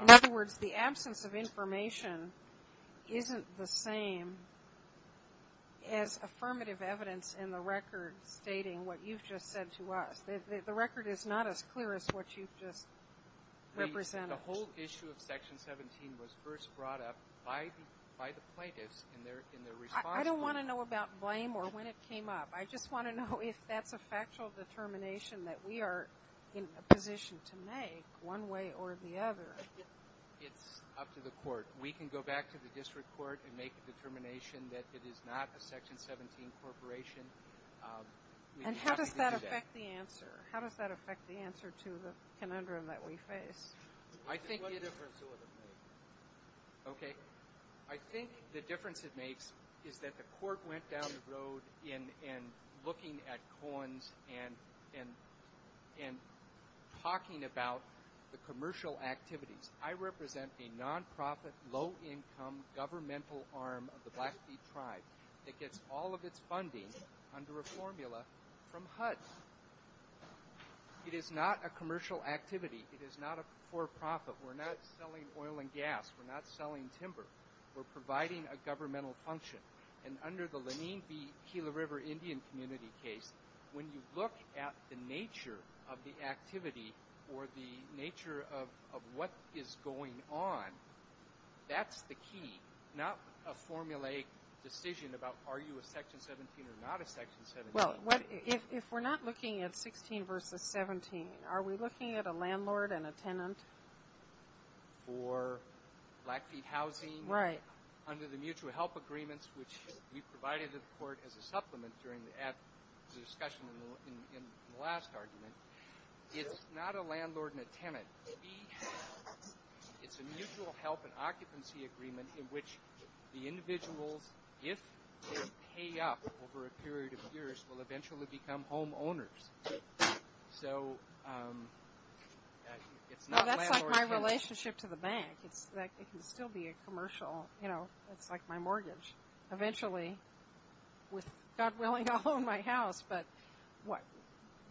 In other words, the absence of information isn't the same as affirmative evidence in the record stating what you've just said to us. The record is not as clear as what you've just represented. The whole issue of Section 17 was first brought up by the plaintiffs in their response. I don't want to know about blame or when it came up. I just want to know if that's a factual determination that we are in a position to make one way or the other. It's up to the court. We can go back to the district court and make a determination that it is not a Section 17 corporation. And how does that affect the answer? How does that affect the answer to the conundrum that we face? I think the difference it makes is that the court went down the road in looking at coins and talking about the commercial activities. I represent a nonprofit, low-income governmental arm of the Blackfeet tribe that gets all of its funding under a formula from HUD. It is not a commercial activity. It is not a for-profit. We're not selling oil and gas. We're not selling timber. We're providing a governmental function. And under the Laneen B. Keeler River Indian Community case, when you look at the nature of the activity or the nature of what is going on, that's the key, not a formulaic decision about are you a Section 17 or not a Section 17. If we're not looking at 16 versus 17, are we looking at a landlord and a tenant? For Blackfeet housing? Right. Under the mutual help agreements, which you provided to the court as a supplement during the discussion in the last argument, it's not a landlord and a tenant. It's a mutual help and occupancy agreement in which the individual, if they pay up over a period of years, will eventually become homeowners. So it's not landlord and tenant. That's like my relationship to the bank. It can still be a commercial. You know, it's like my mortgage. Eventually, with God willing, I'll own my house. But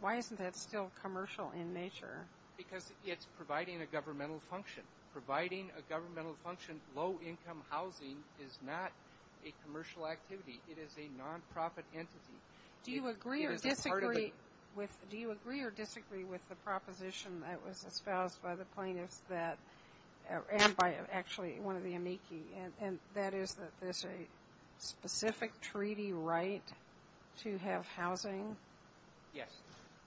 why isn't that still commercial in nature? Because it's providing a governmental function. Providing a governmental function, low-income housing, is not a commercial activity. It is a nonprofit entity. Do you agree or disagree with the proposition that was espoused by the plaintiff and by actually one of the amici, and that is that there's a specific treaty right to have housing? Yes,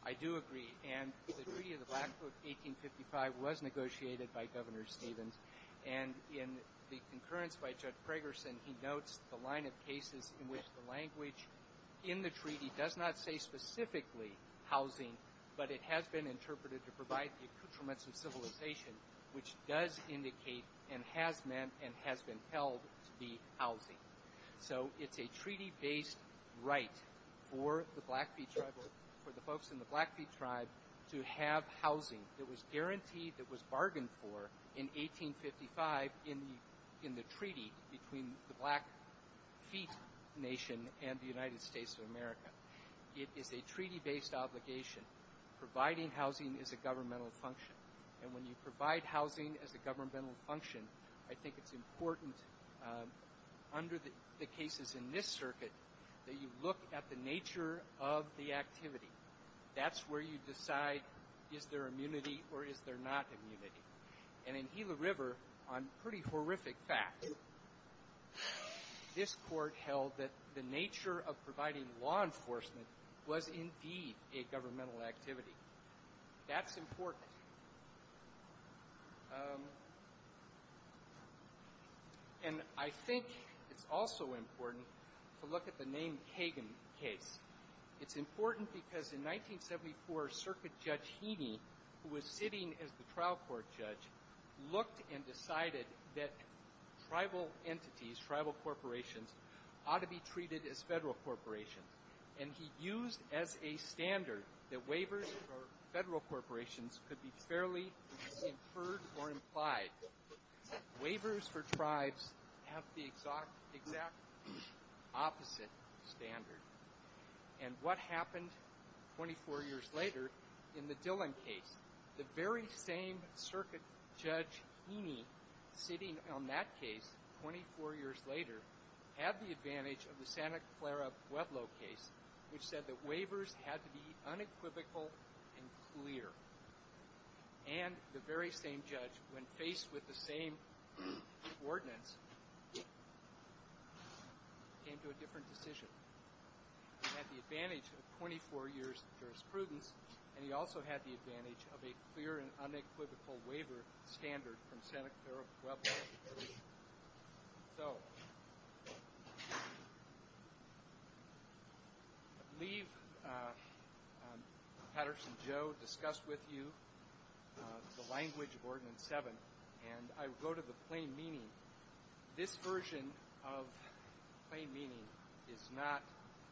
I do agree. And the Treaty of the Blackfoot, 1855, was negotiated by Governor Stevens. And in the concurrence by Judge Fragerson, he notes the line of cases in which the language in the treaty does not say specifically housing, but it has been interpreted to provide the accoutrements of civilization, which does indicate and has meant and has been held to be housing. So it's a treaty-based right for the folks in the Blackfeet tribe to have housing that was guaranteed, that was bargained for in 1855 in the treaty between the Blackfeet Nation and the United States of America. It's a treaty-based obligation. Providing housing is a governmental function. And when you provide housing as a governmental function, I think it's important under the cases in this circuit that you look at the nature of the activity. That's where you decide is there immunity or is there not immunity. And in Gila River, on pretty horrific fact, this court held that the nature of providing law enforcement was indeed a governmental activity. That's important. And I think it's also important to look at the name Kagan case. It's important because in 1974, Circuit Judge Heaney, who was sitting as the trial court judge, looked and decided that tribal entities, tribal corporations, ought to be treated as federal corporations. And he used as a standard that waivers for federal corporations could be fairly inferred or implied. Waivers for tribes have the exact opposite standard. And what happened 24 years later in the Dillon case, the very same Circuit Judge Heaney sitting on that case 24 years later had the advantage of the Santa Clara Pueblo case, which said that waivers had to be unequivocal and clear. And the very same judge, when faced with the same ordinance, came to a different decision. He had the advantage of 24 years of jurisprudence, and he also had the advantage of a clear and unequivocal waiver standard from Santa Clara Pueblo. So I believe Patterson Joe discussed with you the language of Ordinance 7, and I will go to the plain meaning. This version of plain meaning is not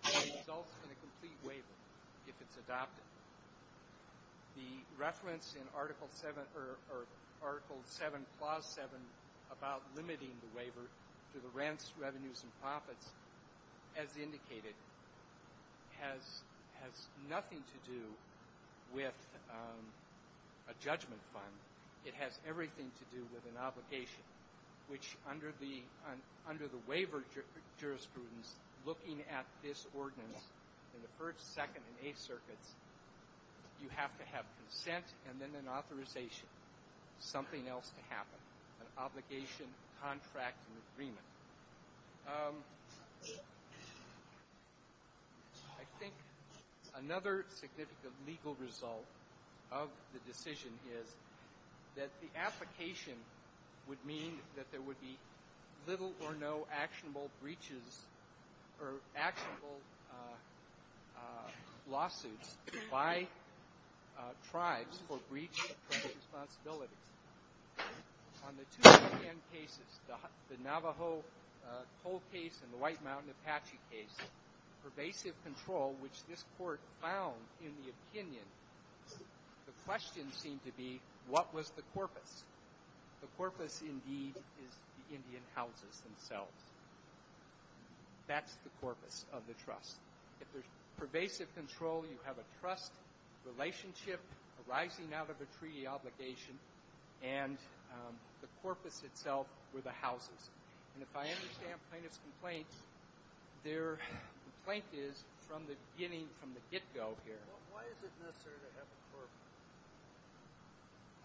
a result in a complete waiver if it's adopted. The reference in Article 7, Clause 7 about limiting the waiver to the rents, revenues, and profits, as indicated, has nothing to do with a judgment fund. It has everything to do with an obligation, which under the waiver jurisprudence, looking at this ordinance in the First, Second, and Eighth Circuits, you have to have consent and then an authorization for something else to happen, an obligation, contract, and agreement. I think another significant legal result of the decision is that the application would mean that there would be little or no actionable breaches or actionable lawsuits by tribes for breach of responsibility. On the 2010 cases, the Navajo toll case and the White Mountain Apache case, pervasive control, which this Court found in the opinion, the question seemed to be, what was the corpus? The corpus, indeed, is the Indian houses themselves. That's the corpus of the trust. If there's pervasive control, you have a trust relationship arising out of a treaty obligation, and the corpus itself were the houses. If I understand plaintiff's complaint, their complaint is from the beginning, from the get-go here. Why is it necessary to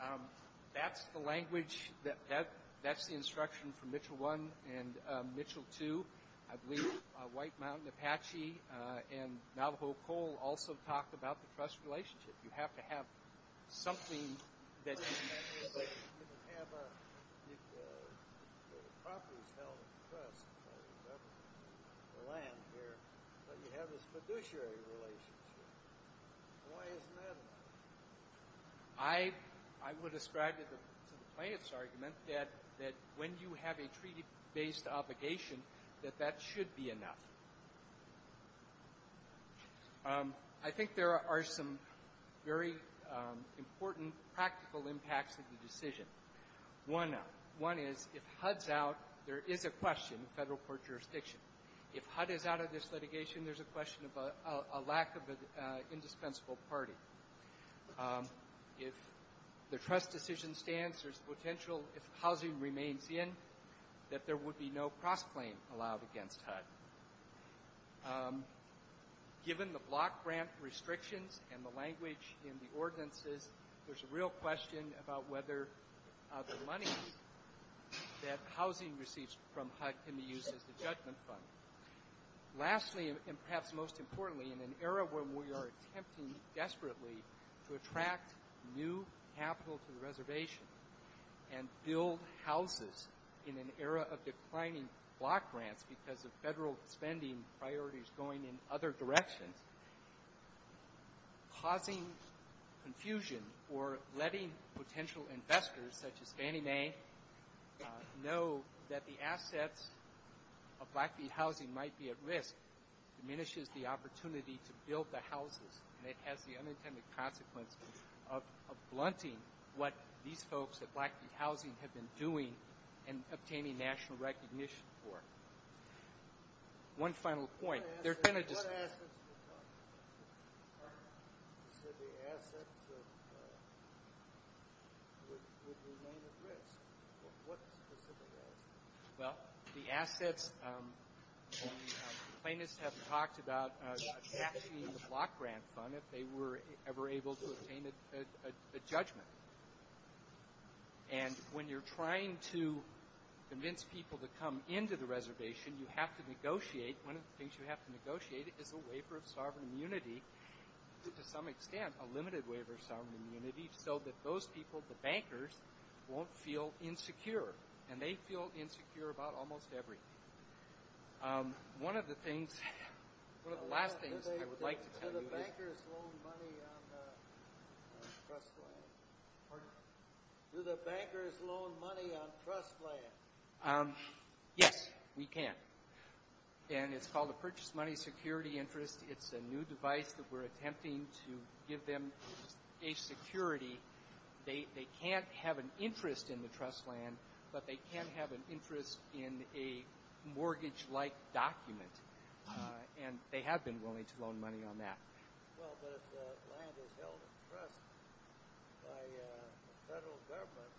have a corpus? That's the language, that's the instruction from Mitchell 1 and Mitchell 2. I believe White Mountain Apache and Navajo coal also talked about the trust relationship. You have to have something that you can actually put. You can have a corpus held in the trust, or you can have a land here, but you have this fiduciary relationship. Why is that? I would have straddled the plaintiff's argument that when you have a treaty-based obligation, that that should be enough. I think there are some very important practical impacts of the decision. One is, if HUD's out, there is a question of federal court jurisdiction. If HUD is out of this litigation, there's a question of a lack of an indispensable party. If the trust decision stands, there's potential, if housing remains in, that there would be no cross-claim allowed against HUD. Given the block grant restrictions and the language in the ordinances, there's a real question about whether the money that housing receives from HUD can be used as a judgment fund. Lastly, and perhaps most importantly, in an era where we are attempting desperately to attract new capital to the reservation and build houses in an era of declining block grants because of federal spending priorities going in other directions, causing confusion or letting potential investors, such as Fannie Mae, know that the assets of Blackfeet Housing might be at risk, diminishes the opportunity to build the houses, and it has the unintended consequences of blunting what these folks at Blackfeet Housing have been doing in obtaining national recognition for. One final point. They're finished. The assets, plaintiffs have talked about taxing the block grant fund if they were ever able to obtain a judgment. And when you're trying to convince people to come into the reservation, you have to negotiate. One of the things you have to negotiate is a waiver of sovereign immunity, to some extent a limited waiver of sovereign immunity, so that those people, the bankers, won't feel insecure. And they feel insecure about almost everything. One of the things, one of the last things I would like to do is... Do the bankers loan money on trust plans? Yes, we can. And it's called a purchase money security interest. It's a new device that we're attempting to give them a security. They can't have an interest in the trust plan, but they can have an interest in a mortgage-like document, and they have been willing to loan money on that. Well, but if the land is held in trust by the federal government,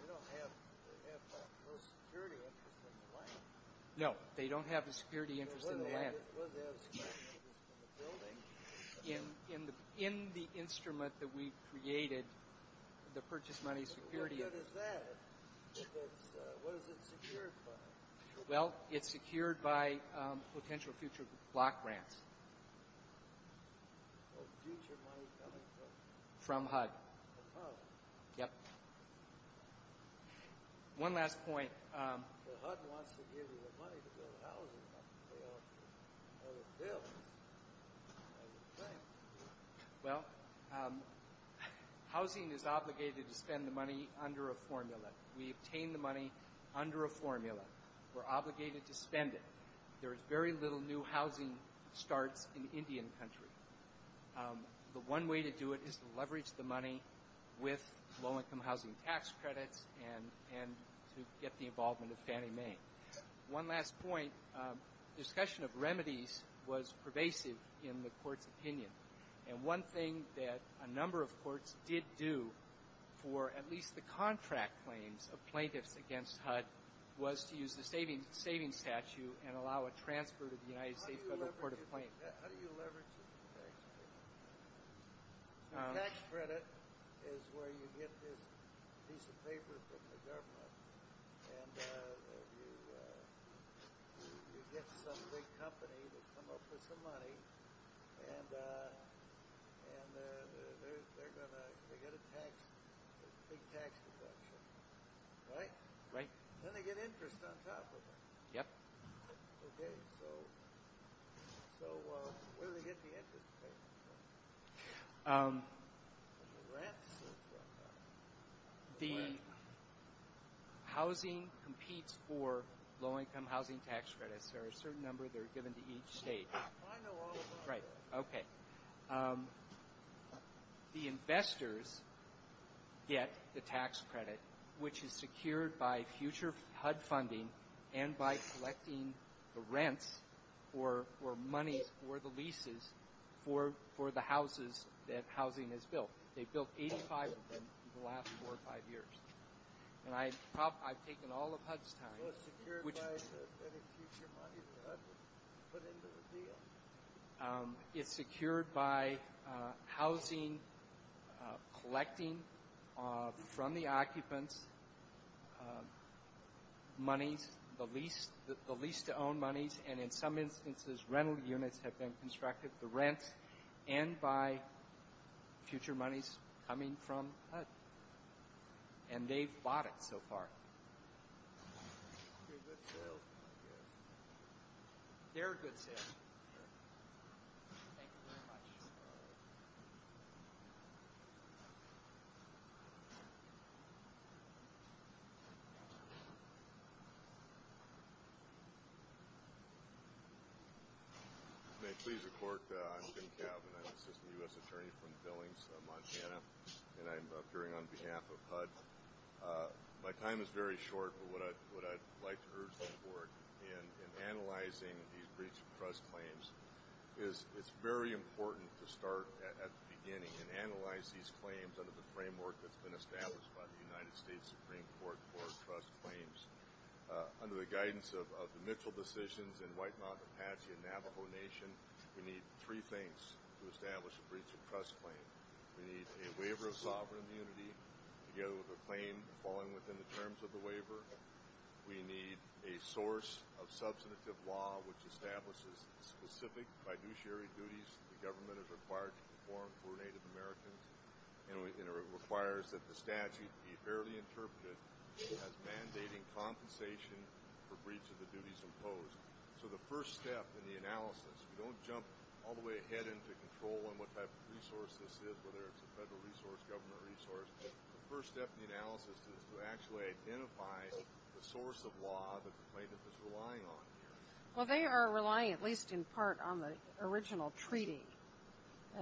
they don't have that type of a security interest in the land. No, they don't have a security interest in the land. What is the building? In the instrument that we've created, the purchase money security... What is that? What is it secured by? Well, it's secured by potential future block grants. From HUD. Yes. One last point. Well, housing is obligated to spend the money under a formula. We obtain the money under a formula. We're obligated to spend it. There is very little new housing start in Indian country. But one way to do it is to leverage the money with low-income housing tax credit and to get the involvement of Fannie Mae. One last point. Discussion of remedies was pervasive in the court's opinion. And one thing that a number of courts did do for at least the contract claims of plaintiffs against HUD was to use the savings statute and allow a transfer to the United States Federal Court of Claims. How do you leverage that? Tax credit is where you get this piece of paper from the government and you get some big company to come up with the money. And they're going to get a tax, big taxes, I'm sure. Right? Right. Then they get interest on top of it. Yep. Okay. So where do they get the interest? Rent? The housing competes for low-income housing tax credit. There are a certain number that are given to each state. Right. Okay. The investors get the tax credit, which is secured by future HUD funding and by collecting the rent or money for the leases for the houses that housing is built. They've built 85 of them in the last four or five years. I've taken all of HUD's time. It's secured by the future money that HUD put into the deal. It's secured by housing, collecting from the occupants money, the lease to own monies, and in some instances rental units have been constructed for rent and by future monies coming from HUD. And they've bought it so far. They're a good sale. May I please report? I'm Tim Calvin. I'm an assistant U.S. attorney from Billings, Montana. And I'm appearing on behalf of HUD. My time is very short, but what I'd like to urge the Board in analyzing these breach of trust claims is it's very important to start at the beginning and analyze these claims under the framework that's been established by the United States Supreme Court for trust claims. Under the guidance of the Mitchell decisions and White Mountain Apache and Navajo Nation, we need three things to establish a breach of trust claim. We need a waiver of sovereign immunity together with a claim falling within the terms of the waiver. We need a source of substantive law which establishes specific fiduciary duties the government is required to perform for Native Americans. It requires that the statute be fairly interpreted as mandating compensation for breach of the duties imposed. So the first step in the analysis, don't jump all the way ahead into control and what type of resource this is, whether it's a federal resource, government resource. The first step in the analysis is to actually identify the source of law that the plaintiff is relying on. Well, they are relying at least in part on the original treaty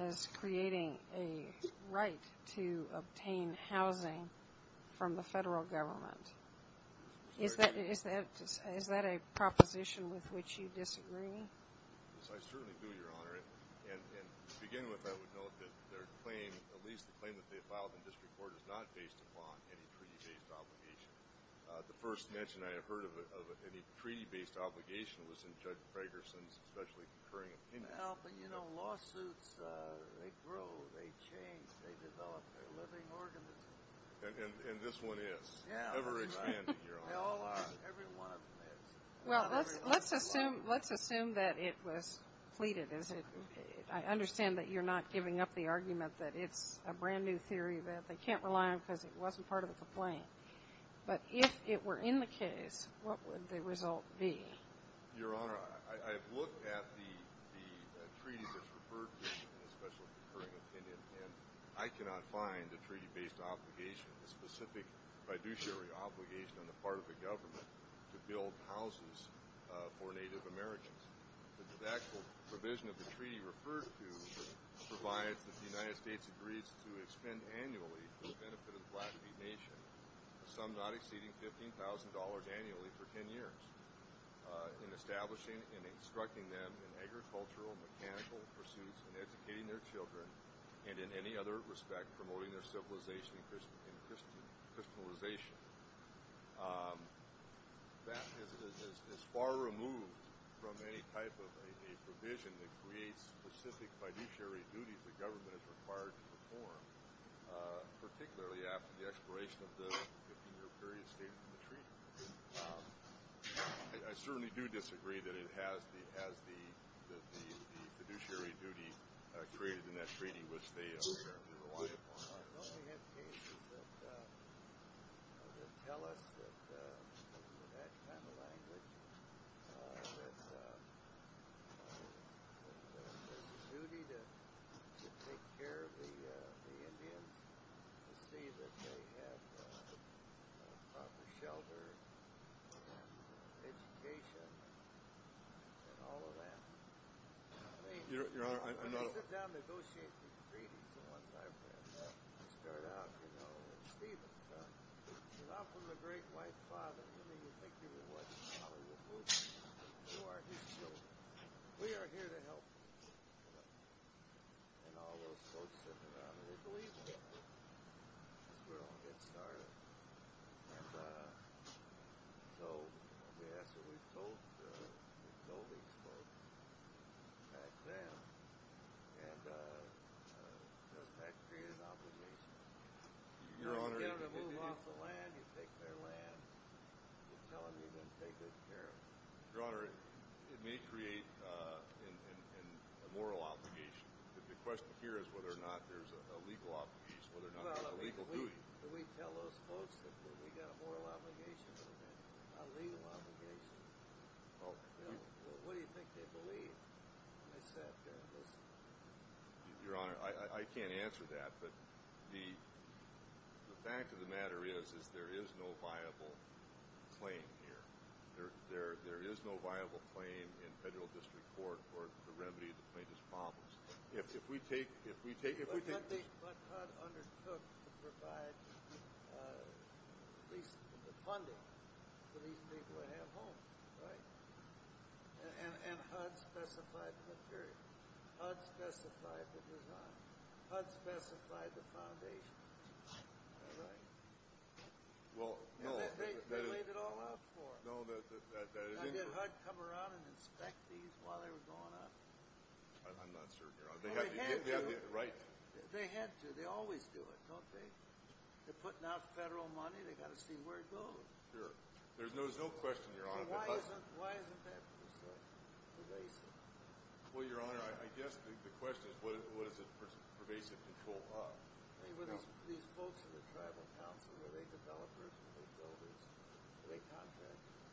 as creating a right to obtain housing from the federal government. Is that a proposition with which you disagree? Yes, I certainly do, Your Honor. And to begin with, I would note that their claim, at least the claim that they filed in district court, is not based upon any treaty-based obligation. The first mention I have heard of any treaty-based obligation was from Judge Fragerson's especially concurring opinion. But, you know, lawsuits, they grow, they change, they develop their living organisms. And this one is. Well, let's assume that it was pleaded. I understand that you're not giving up the argument that it's a brand-new theory that they can't rely on because it wasn't part of the claim. But if it were in the case, what would the result be? Your Honor, I've looked at the treaty that's referred to, especially the concurring opinion, and I cannot find a treaty-based obligation, a specific fiduciary obligation on the part of the government to build houses for Native Americans. The actual provision of the treaty referred to provides that the United States agrees to expend annually for the benefit of the Plattevue Nation, some not exceeding $15,000 annually for 10 years, in establishing and instructing them in agricultural, mechanical pursuits and educating their children and, in any other respect, promoting their civilization and Christianization. That is far removed from any type of provision that creates specific fiduciary duties the government is required to perform, particularly after the expiration of the 15-year period stated in the treaty. I certainly do disagree that it has the fiduciary duty created in that treaty, which the American government is required to perform. My only indication is that it would tell us that, in the background language, that it's a duty to take care of the Indians, to see that they have proper shelter, education, and all of that. Your Honor, I know... I sat down to negotiate the treaty for a long time. It started out, you know, with Stephen. He's often the great white father to me, which makes me realize how important you are to me. We are here to help you. And all those folks around me believe in you. We're all getting started. And so we actually told these folks, and I sat down, and that created an opportunity. You get them to move off the land, you take their land. You tell them you're going to take good care of them. Your Honor, it may create a moral obligation, but the question here is whether or not there's a legal obligation, whether or not there's a legal duty. Can we tell those folks that we've got a moral obligation, a legal obligation? What do you think they believe? Your Honor, I can't answer that, but the fact of the matter is, is there is no viable claim here. There is no viable claim in federal district court for the remedy to the plaintiff's problems. If we take... I don't think HUD understood to provide the funding for these people to have homes. Right. And HUD specified the period. HUD specified the design. HUD specified the foundation. That's right. Well, that is... They made it all up for us. No, that is... Did HUD come around and inspect these while they were going up? I'm not certain, Your Honor. They had to. They had to. They always do it, don't they? They're putting out federal money. They've got to see where it goes. Sure. There's no question, Your Honor, that HUD... Why isn't HUD involved? Well, Your Honor, I guess the question is, what is it for me to control HUD? These folks in the tribal council, are they developers? Are they builders? Are they contractors?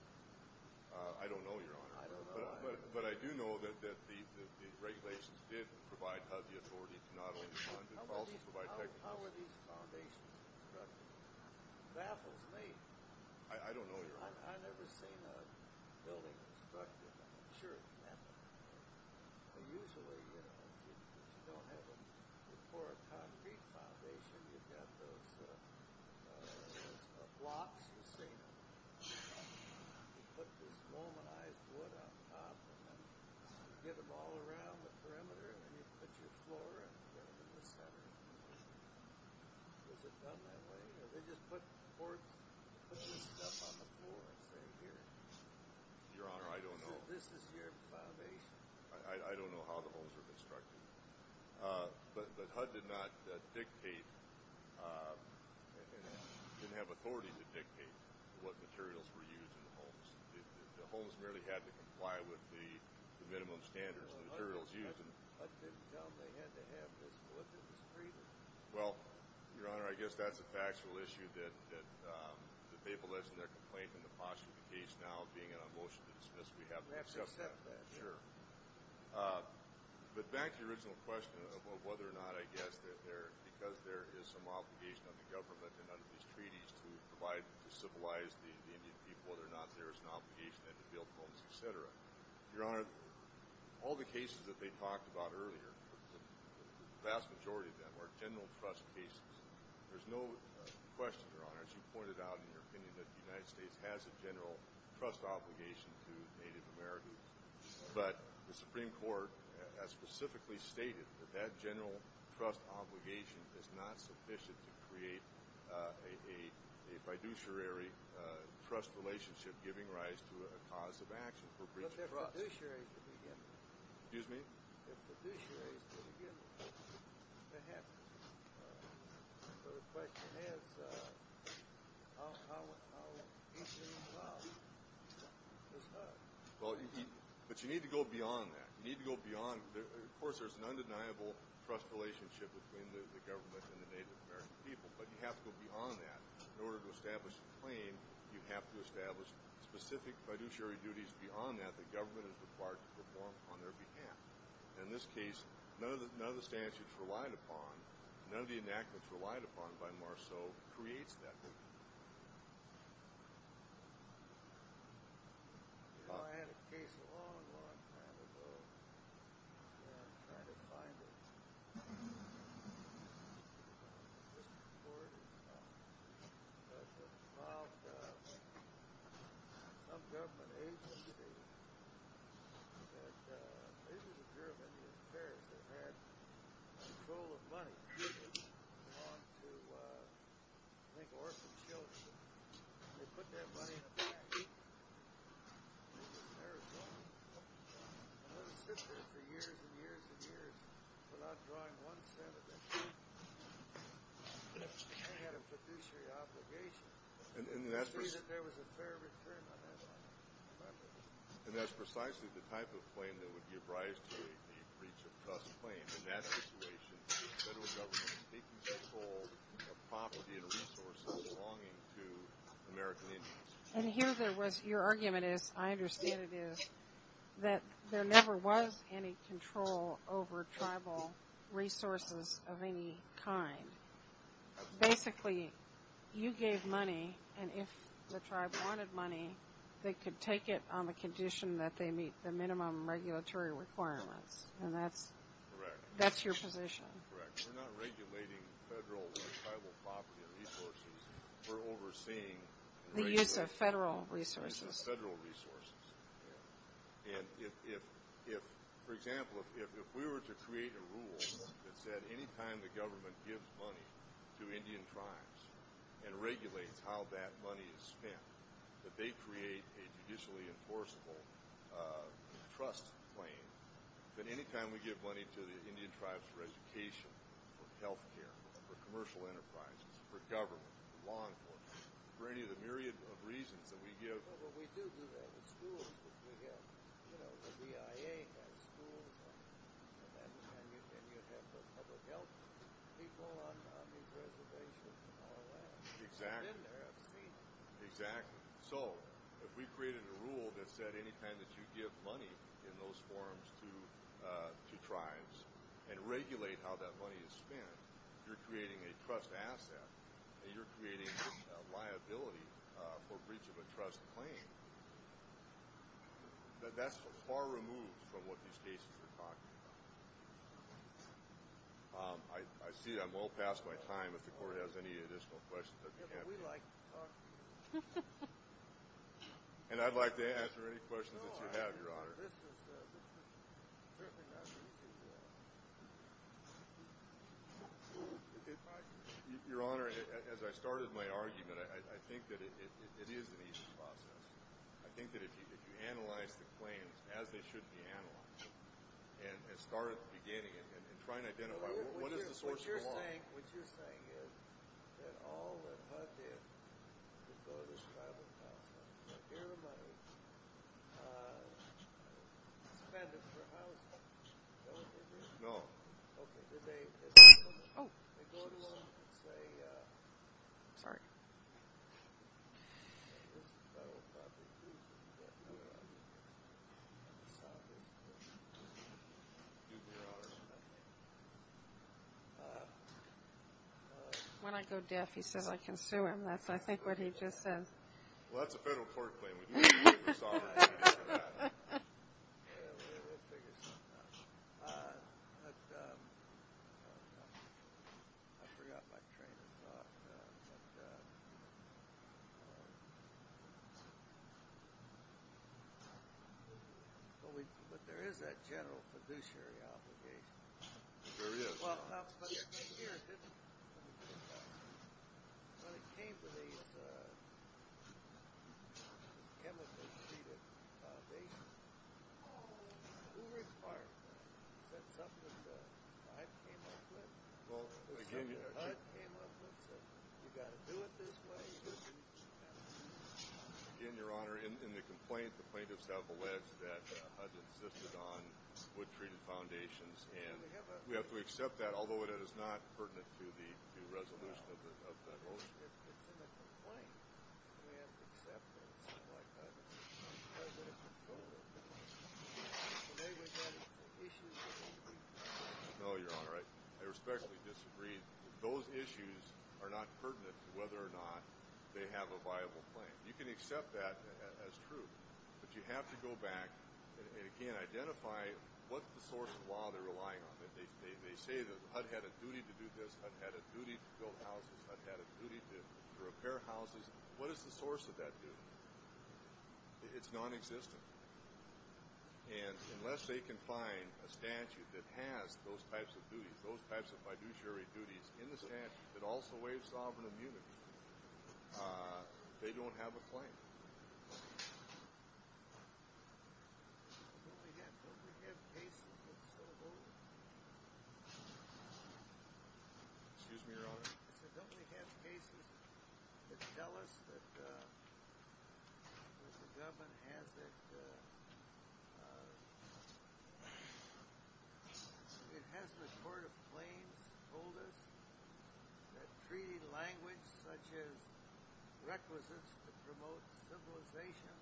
I don't know, Your Honor. I don't know either. It's good that these regulations did provide HUD the authority to not only fund it, but also provide technical assistance. How are these foundations constructed? I don't know, Your Honor. I've never seen a building constructed. Sure, you have. Usually, you don't have them. For a concrete foundation, you've got to put blocks and things. You put this normalized wood on top, and then you get them all around the perimeter, and then you put your floor around the perimeter, and then the ground around the perimeter. Was it done that way? Or did they just put boards? They put stuff on the boards right here. Your Honor, I don't know. This is your foundation. I don't know how the holes were constructed. But HUD did not dictate, and didn't have authority to dictate what materials were used in the holes. The holes merely had to comply with the minimum standards of materials used. I think they had to have a solicitor's agreement. Well, Your Honor, I guess that's a factual issue that they've alleged in their complaint in the posthumous case, now being in a motion to dismiss. We have access to that. Sure. But back to your original question of whether or not, I guess, because there is some obligation on the government and under these treaties to provide and to civilize the Indian people, whether or not there is an obligation at the field homes, et cetera. Your Honor, all the cases that they talked about earlier, the vast majority of them are general trust cases. There's no question, Your Honor, as you pointed out in your opinion, that the United States has a general trust obligation to Native Americans. But the Supreme Court has specifically stated that that general trust obligation is not sufficient to create a fiduciary trust relationship giving rise to a cause of action for creating trust. But the fiduciary can be given. Excuse me? The fiduciary can be given. Perhaps. But if that's the case, how efficient is that? But you need to go beyond that. Of course, there is an undeniable trust relationship between the government and the Native American people, but you have to go beyond that in order to establish a claim. You have to establish specific fiduciary duties beyond that the government is required to perform on their behalf. In this case, none of the statutes relied upon, none of the enactments relied upon by Marceau creates that. Thank you. I had a case a long, long time ago, and I'm trying to find it. This is important. About some government agencies, it appears that they had control of money, usually to make orphaned children, and they put that money in the bank. It's embarrassing. For years and years and years, the last time one said that they had a fiduciary obligation, they said that there was a fair return on that money. And that's precisely the type of claim that would be apprised to a fiduciary trust claim. In that situation, the federal government is taking control of property and resources belonging to American Indians. And here's where your argument is, I understand it is, that there never was any control over tribal resources of any kind. Basically, you gave money, and if the tribe wanted money, they could take it on the condition that they meet the minimum regulatory requirements, and that's your position. Correct. We're not regulating federal and tribal property and resources. We use the federal resources. We use the federal resources. And if, for example, if we were to create a rule that said, any time the government gives money to Indian tribes and regulates how that money is spent, that they create a fiduciary enforceable trust claim, that any time we give money to the Indian tribes for education, for health care, for commercial enterprises, for government, for law enforcement, for any of the myriad of reasons that we give. Well, we do do that. The schools that we give, you know, the BIA, that's the school that we go to. And we give that to the federal government. We follow up on these reservations and all that. Exactly. And then there are fees. Exactly. So, if we created a rule that said, any time that you give money in those forms to tribes and regulate how that money is spent, you're creating a trust asset and you're creating a liability for breach of a trust claim, that that's far removed from what these cases are talking about. I see that I'm well past my time, if the Court has any additional questions. We like to talk. And I'd like to answer any questions that you have, Your Honor. Your Honor, as I started my argument, I think that it is an easy process. I think that if you analyze the claims as they should be analyzed, and as part of the beginning, and try to identify what is the source of the harm. What you're saying is that all that's left is to go to the tribal council. Everybody. No. Oh. Sorry. When I go deaf, he says I can sue him. I think that's what he just said. Well, that's a federal court claim. I forgot my train of thought. But there is that general fiduciary obligation. There is. Well, I was going to say here, when it came to these chemically treated nations, they were inquiring. Something that I came up with. I came up with that we've got to do it this way. Again, Your Honor, in the complaint, the plaintiff's double-edged that this is on wood-treated foundations. And we have to accept that, although it is not pertinent to the resolution of the complaint. No, Your Honor, I respectfully disagree. Those issues are not pertinent to whether or not they have a viable claim. You can accept that as true. But you have to go back and, again, identify what the source of law they're relying on. They say that I've had a duty to do this. I've had a duty to build houses. I've had a duty to repair houses. What is the source of that duty? It's nonexistent. And unless they can find a statute that has those types of duties, those types of fiduciary duties in the statute, that also waives sovereign immunity, they don't have a claim. Excuse me, Your Honor. It doesn't have cases that tell us that the government has that sort of claim, that treaty language such as requisites to promote civilization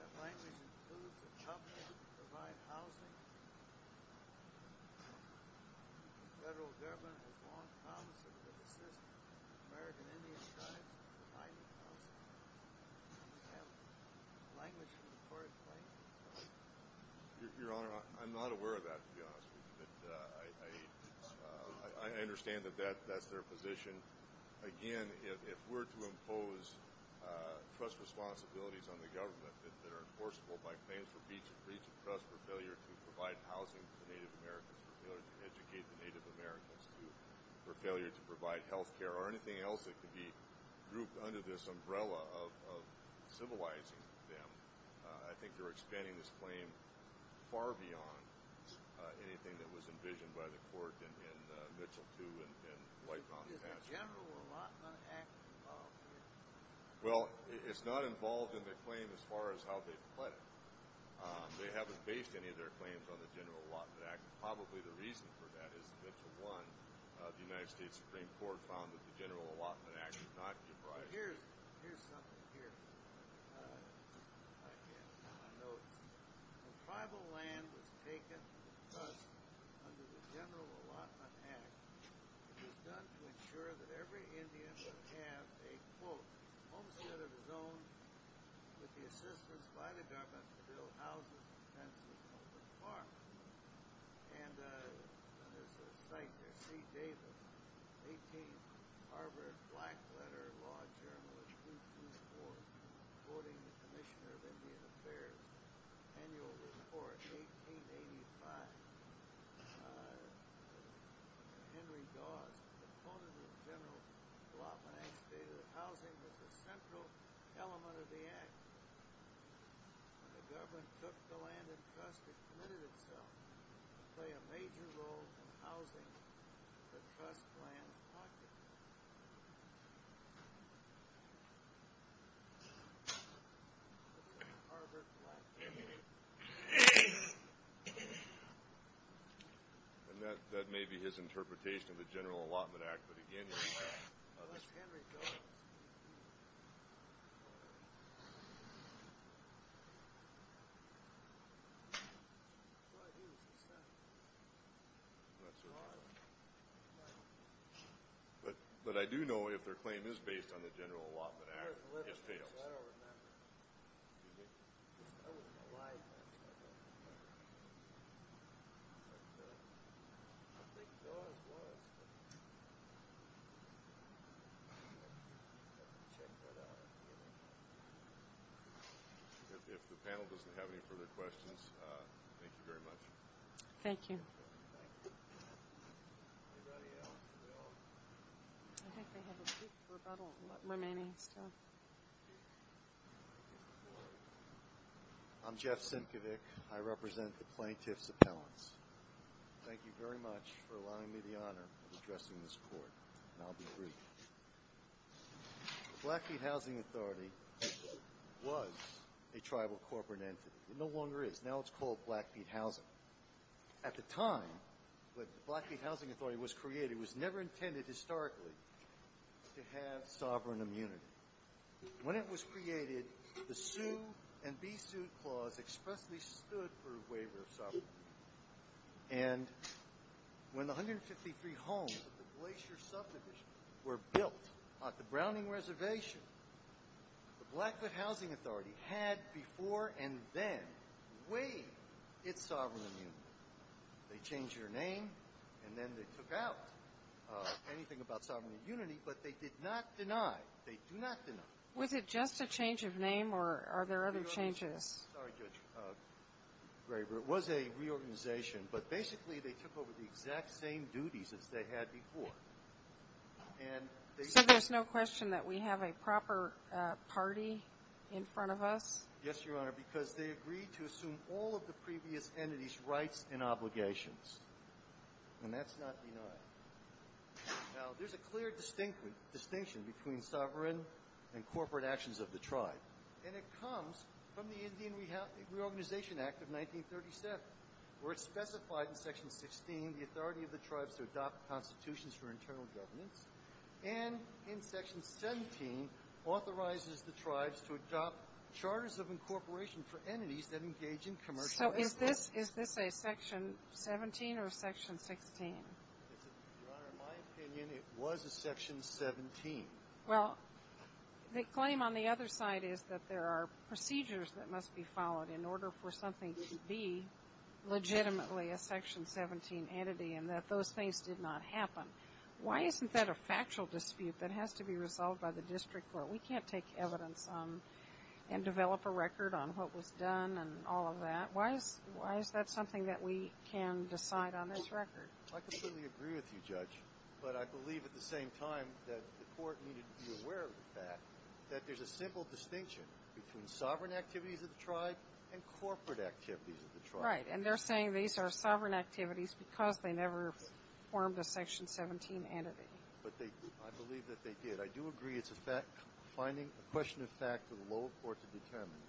has language that proves to be helpful to provide housing. The federal government has long found that it's a good thing that American Indians try to provide housing. They have language that's worthwhile. Your Honor, I'm not aware of that, to be honest with you. I understand that that's their position. Again, if we're to impose trust responsibilities on the government, that they're enforceable by claims of breach of trust or failure to provide housing to Native Americans, failure to educate the Native Americans, or failure to provide health care or anything else that could be grouped under this umbrella of civilizing them, I think they're expanding this claim far beyond anything that was envisioned by the court in Mitchell 2 and Lighthouse, New Hampshire. Is the General Allotment Act involved? Well, it's not involved in the claim as far as how they put it. They haven't based any of their claims on the General Allotment Act. Probably the reason for that is that to one, the United States Supreme Court found that the General Allotment Act did not give rise to it. Here's something here. It goes, when tribal land is taken from us under the General Allotment Act, it is done to ensure that every Indian should have a, quote, homestead of his own with the assistance provided by the federal government to build houses and tents and open farms. And there's a site there, 18th Harvard Blackletter Law Journal, which we can use for quoting the Commissioner of Indian Affairs. Annual report, 1885. Henry Dodd, the proponent of the General Allotment Act, stated that housing was a central element of the act. The government took the land in trust, and it committed itself to play a major role in housing that cuts land in question. This is Harvard Blackletter. And that may be his interpretation of the General Allotment Act, but again, it's not. That's Henry Dodd. But I do know if their claim is based on the General Allotment Act. If the panel doesn't have any further questions, thank you very much. Thank you. I'm Jeff Stankovic. I represent the plaintiffs' appellants. Thank you very much for allowing me the honor of addressing this court, and I'll be brief. The Blackfeet Housing Authority was a tribal corporate entity. It no longer is. Now it's called Blackfeet Housing. At the time when the Blackfeet Housing Authority was created, it was never intended historically to have sovereign immunity. When it was created, the sue and be sued clause expressly stood for a waiver of sovereignty. And when the 153 homes at the Glacier Suffrage were built at the Browning Reservation, the Blackfeet Housing Authority had before and then waived its sovereign immunity. They changed their name, and then they took out anything about sovereign immunity, but they did not deny. They do not deny. Was it just a change of name, or are there other changes? Sorry, Judge Graber. It was a reorganization, but basically they took over the exact same duties as they had before. So there's no question that we have a proper party in front of us? Yes, Your Honor, because they agreed to assume all of the previous entity's rights and obligations, and that's not denied. Now there's a clear distinction between sovereign and corporate actions of the tribe, and it comes from the Indian Reorganization Act of 1937, where it's specified in Section 16, the authority of the tribes to adopt constitutions for internal government, and in Section 17, authorizes the tribes to adopt charters of incorporation for entities that engage in commercial enterprise. So is this a Section 17 or a Section 16? Your Honor, in my opinion, it was a Section 17. Well, the claim on the other side is that there are procedures that must be followed in order for something to be legitimately a Section 17 entity, and that those things did not happen. Why isn't that a factual dispute that has to be resolved by the district court? We can't take evidence and develop a record on what was done and all of that. Why is that something that we can decide on this record? I can certainly agree with you, Judge, but I believe at the same time that the court needed to be aware of the fact that there's a simple distinction between sovereign activities of the tribe and corporate activities of the tribe. Right, and they're saying these are sovereign activities because they never formed a Section 17 entity. I believe that they did. I do agree it's a question of fact for the lower court to determine,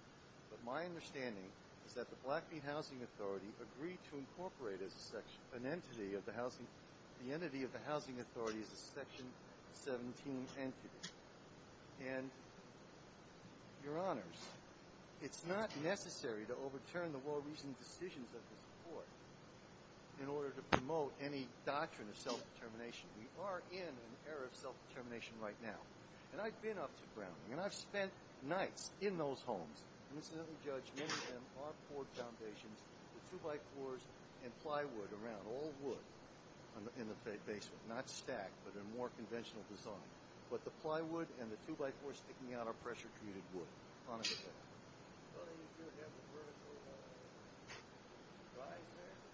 but my understanding is that the Blackfeet Housing Authority agreed to incorporate an entity of the housing authority as a Section 17 entity, and, Your Honors, it's not necessary to overturn the more recent decisions of the court in order to promote any doctrine of self-determination. We are in an era of self-determination right now, and I've been up to ground, and I've spent nights in those homes and incidentally judged many of them are poor foundations with two-by-fours and plywood around, all wood in the basement, not stacked, but in a more conventional design, but the plywood and the two-by-fours sticking out are pressure-commuted wood.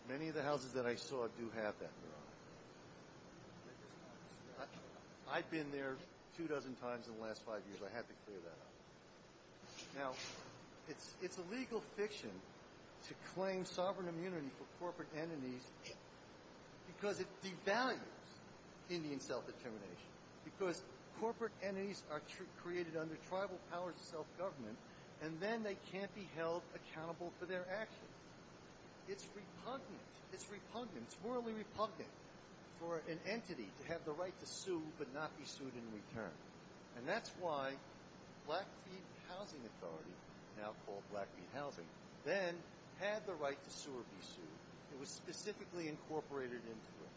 Many of the houses that I saw do have that. I've been there two dozen times in the last five years. I have to clear that up. Now, it's illegal fiction to claim sovereign immunity for corporate entities because it devalues Indian self-determination, because corporate entities are created under tribal powers of self-government, and then they can't be held accountable for their actions. It's repugnant. It's repugnant. It's morally repugnant for an entity to have the right to sue but not be sued in return, and that's why Blackfeet Housing Authority, now called Blackfeet Housing, then had the right to sue or be sued. It was specifically incorporated into it.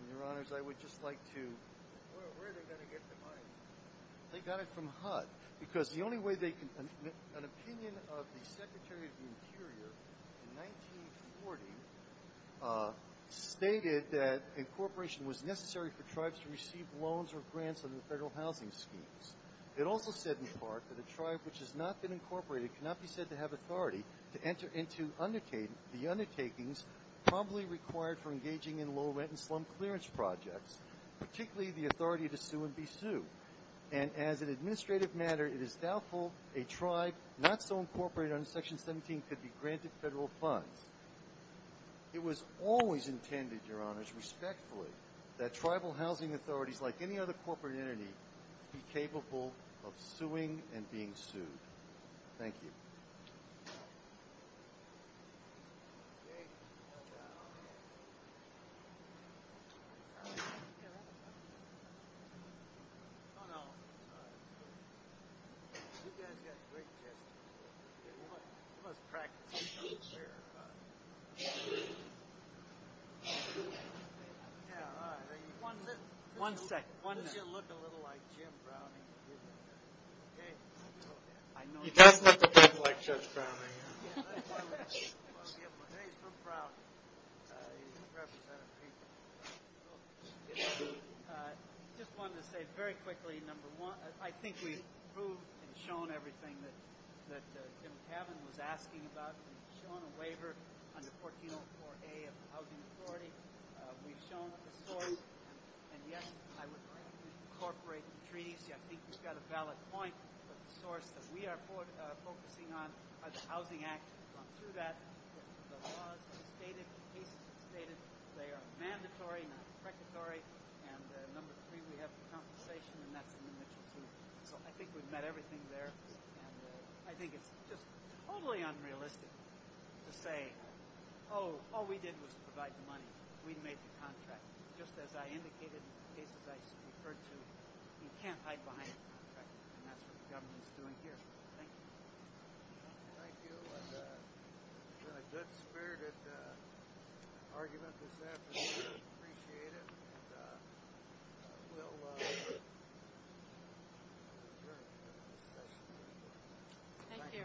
And, Your Honors, I would just like to... Where are they going to get the money? They got it from HUD because the only way they can... An opinion of the Secretary of the Interior in 1940 stated that incorporation was necessary for tribes to receive loans or grants from the federal housing schemes. It also said in part that a tribe which has not been incorporated cannot be said to have authority to enter into the undertakings probably required for engaging in low-rent and slum clearance projects, particularly the authority to sue and be sued. And as an administrative matter, it is doubtful a tribe not so incorporated under Section 1750 granted federal funds. It was always intended, Your Honors, respectfully, that tribal housing authorities, like any other corporate entity, be capable of suing and being sued. Thank you. One second. You look a little like Jim Brown. You guys look just like Judge Brown. Just wanted to say very quickly, number one, I think you've proved and shown everything that Jim Taven was asking about. We've shown a waiver under 1404A of the Housing Authority. We've shown a source. And, yes, I would like to incorporate the treaty. Jim, I think you've got a valid point. The source that we are focusing on, the Housing Act, to that clause stated they are mandatory, not predatory. And, number three, we have a compensation in that community. I think we've met everything there. I think it's just totally unrealistic to say, Oh, all we did was provide the money. We made the contract. Just as I indicated in the case I referred to, you can't hide behind a contract. That's what the government is doing here. Thank you. Thank you. It was a good spirit. I've argued about this afternoon. I appreciate it. And I still love it. Thank you. Thank you. Thank you.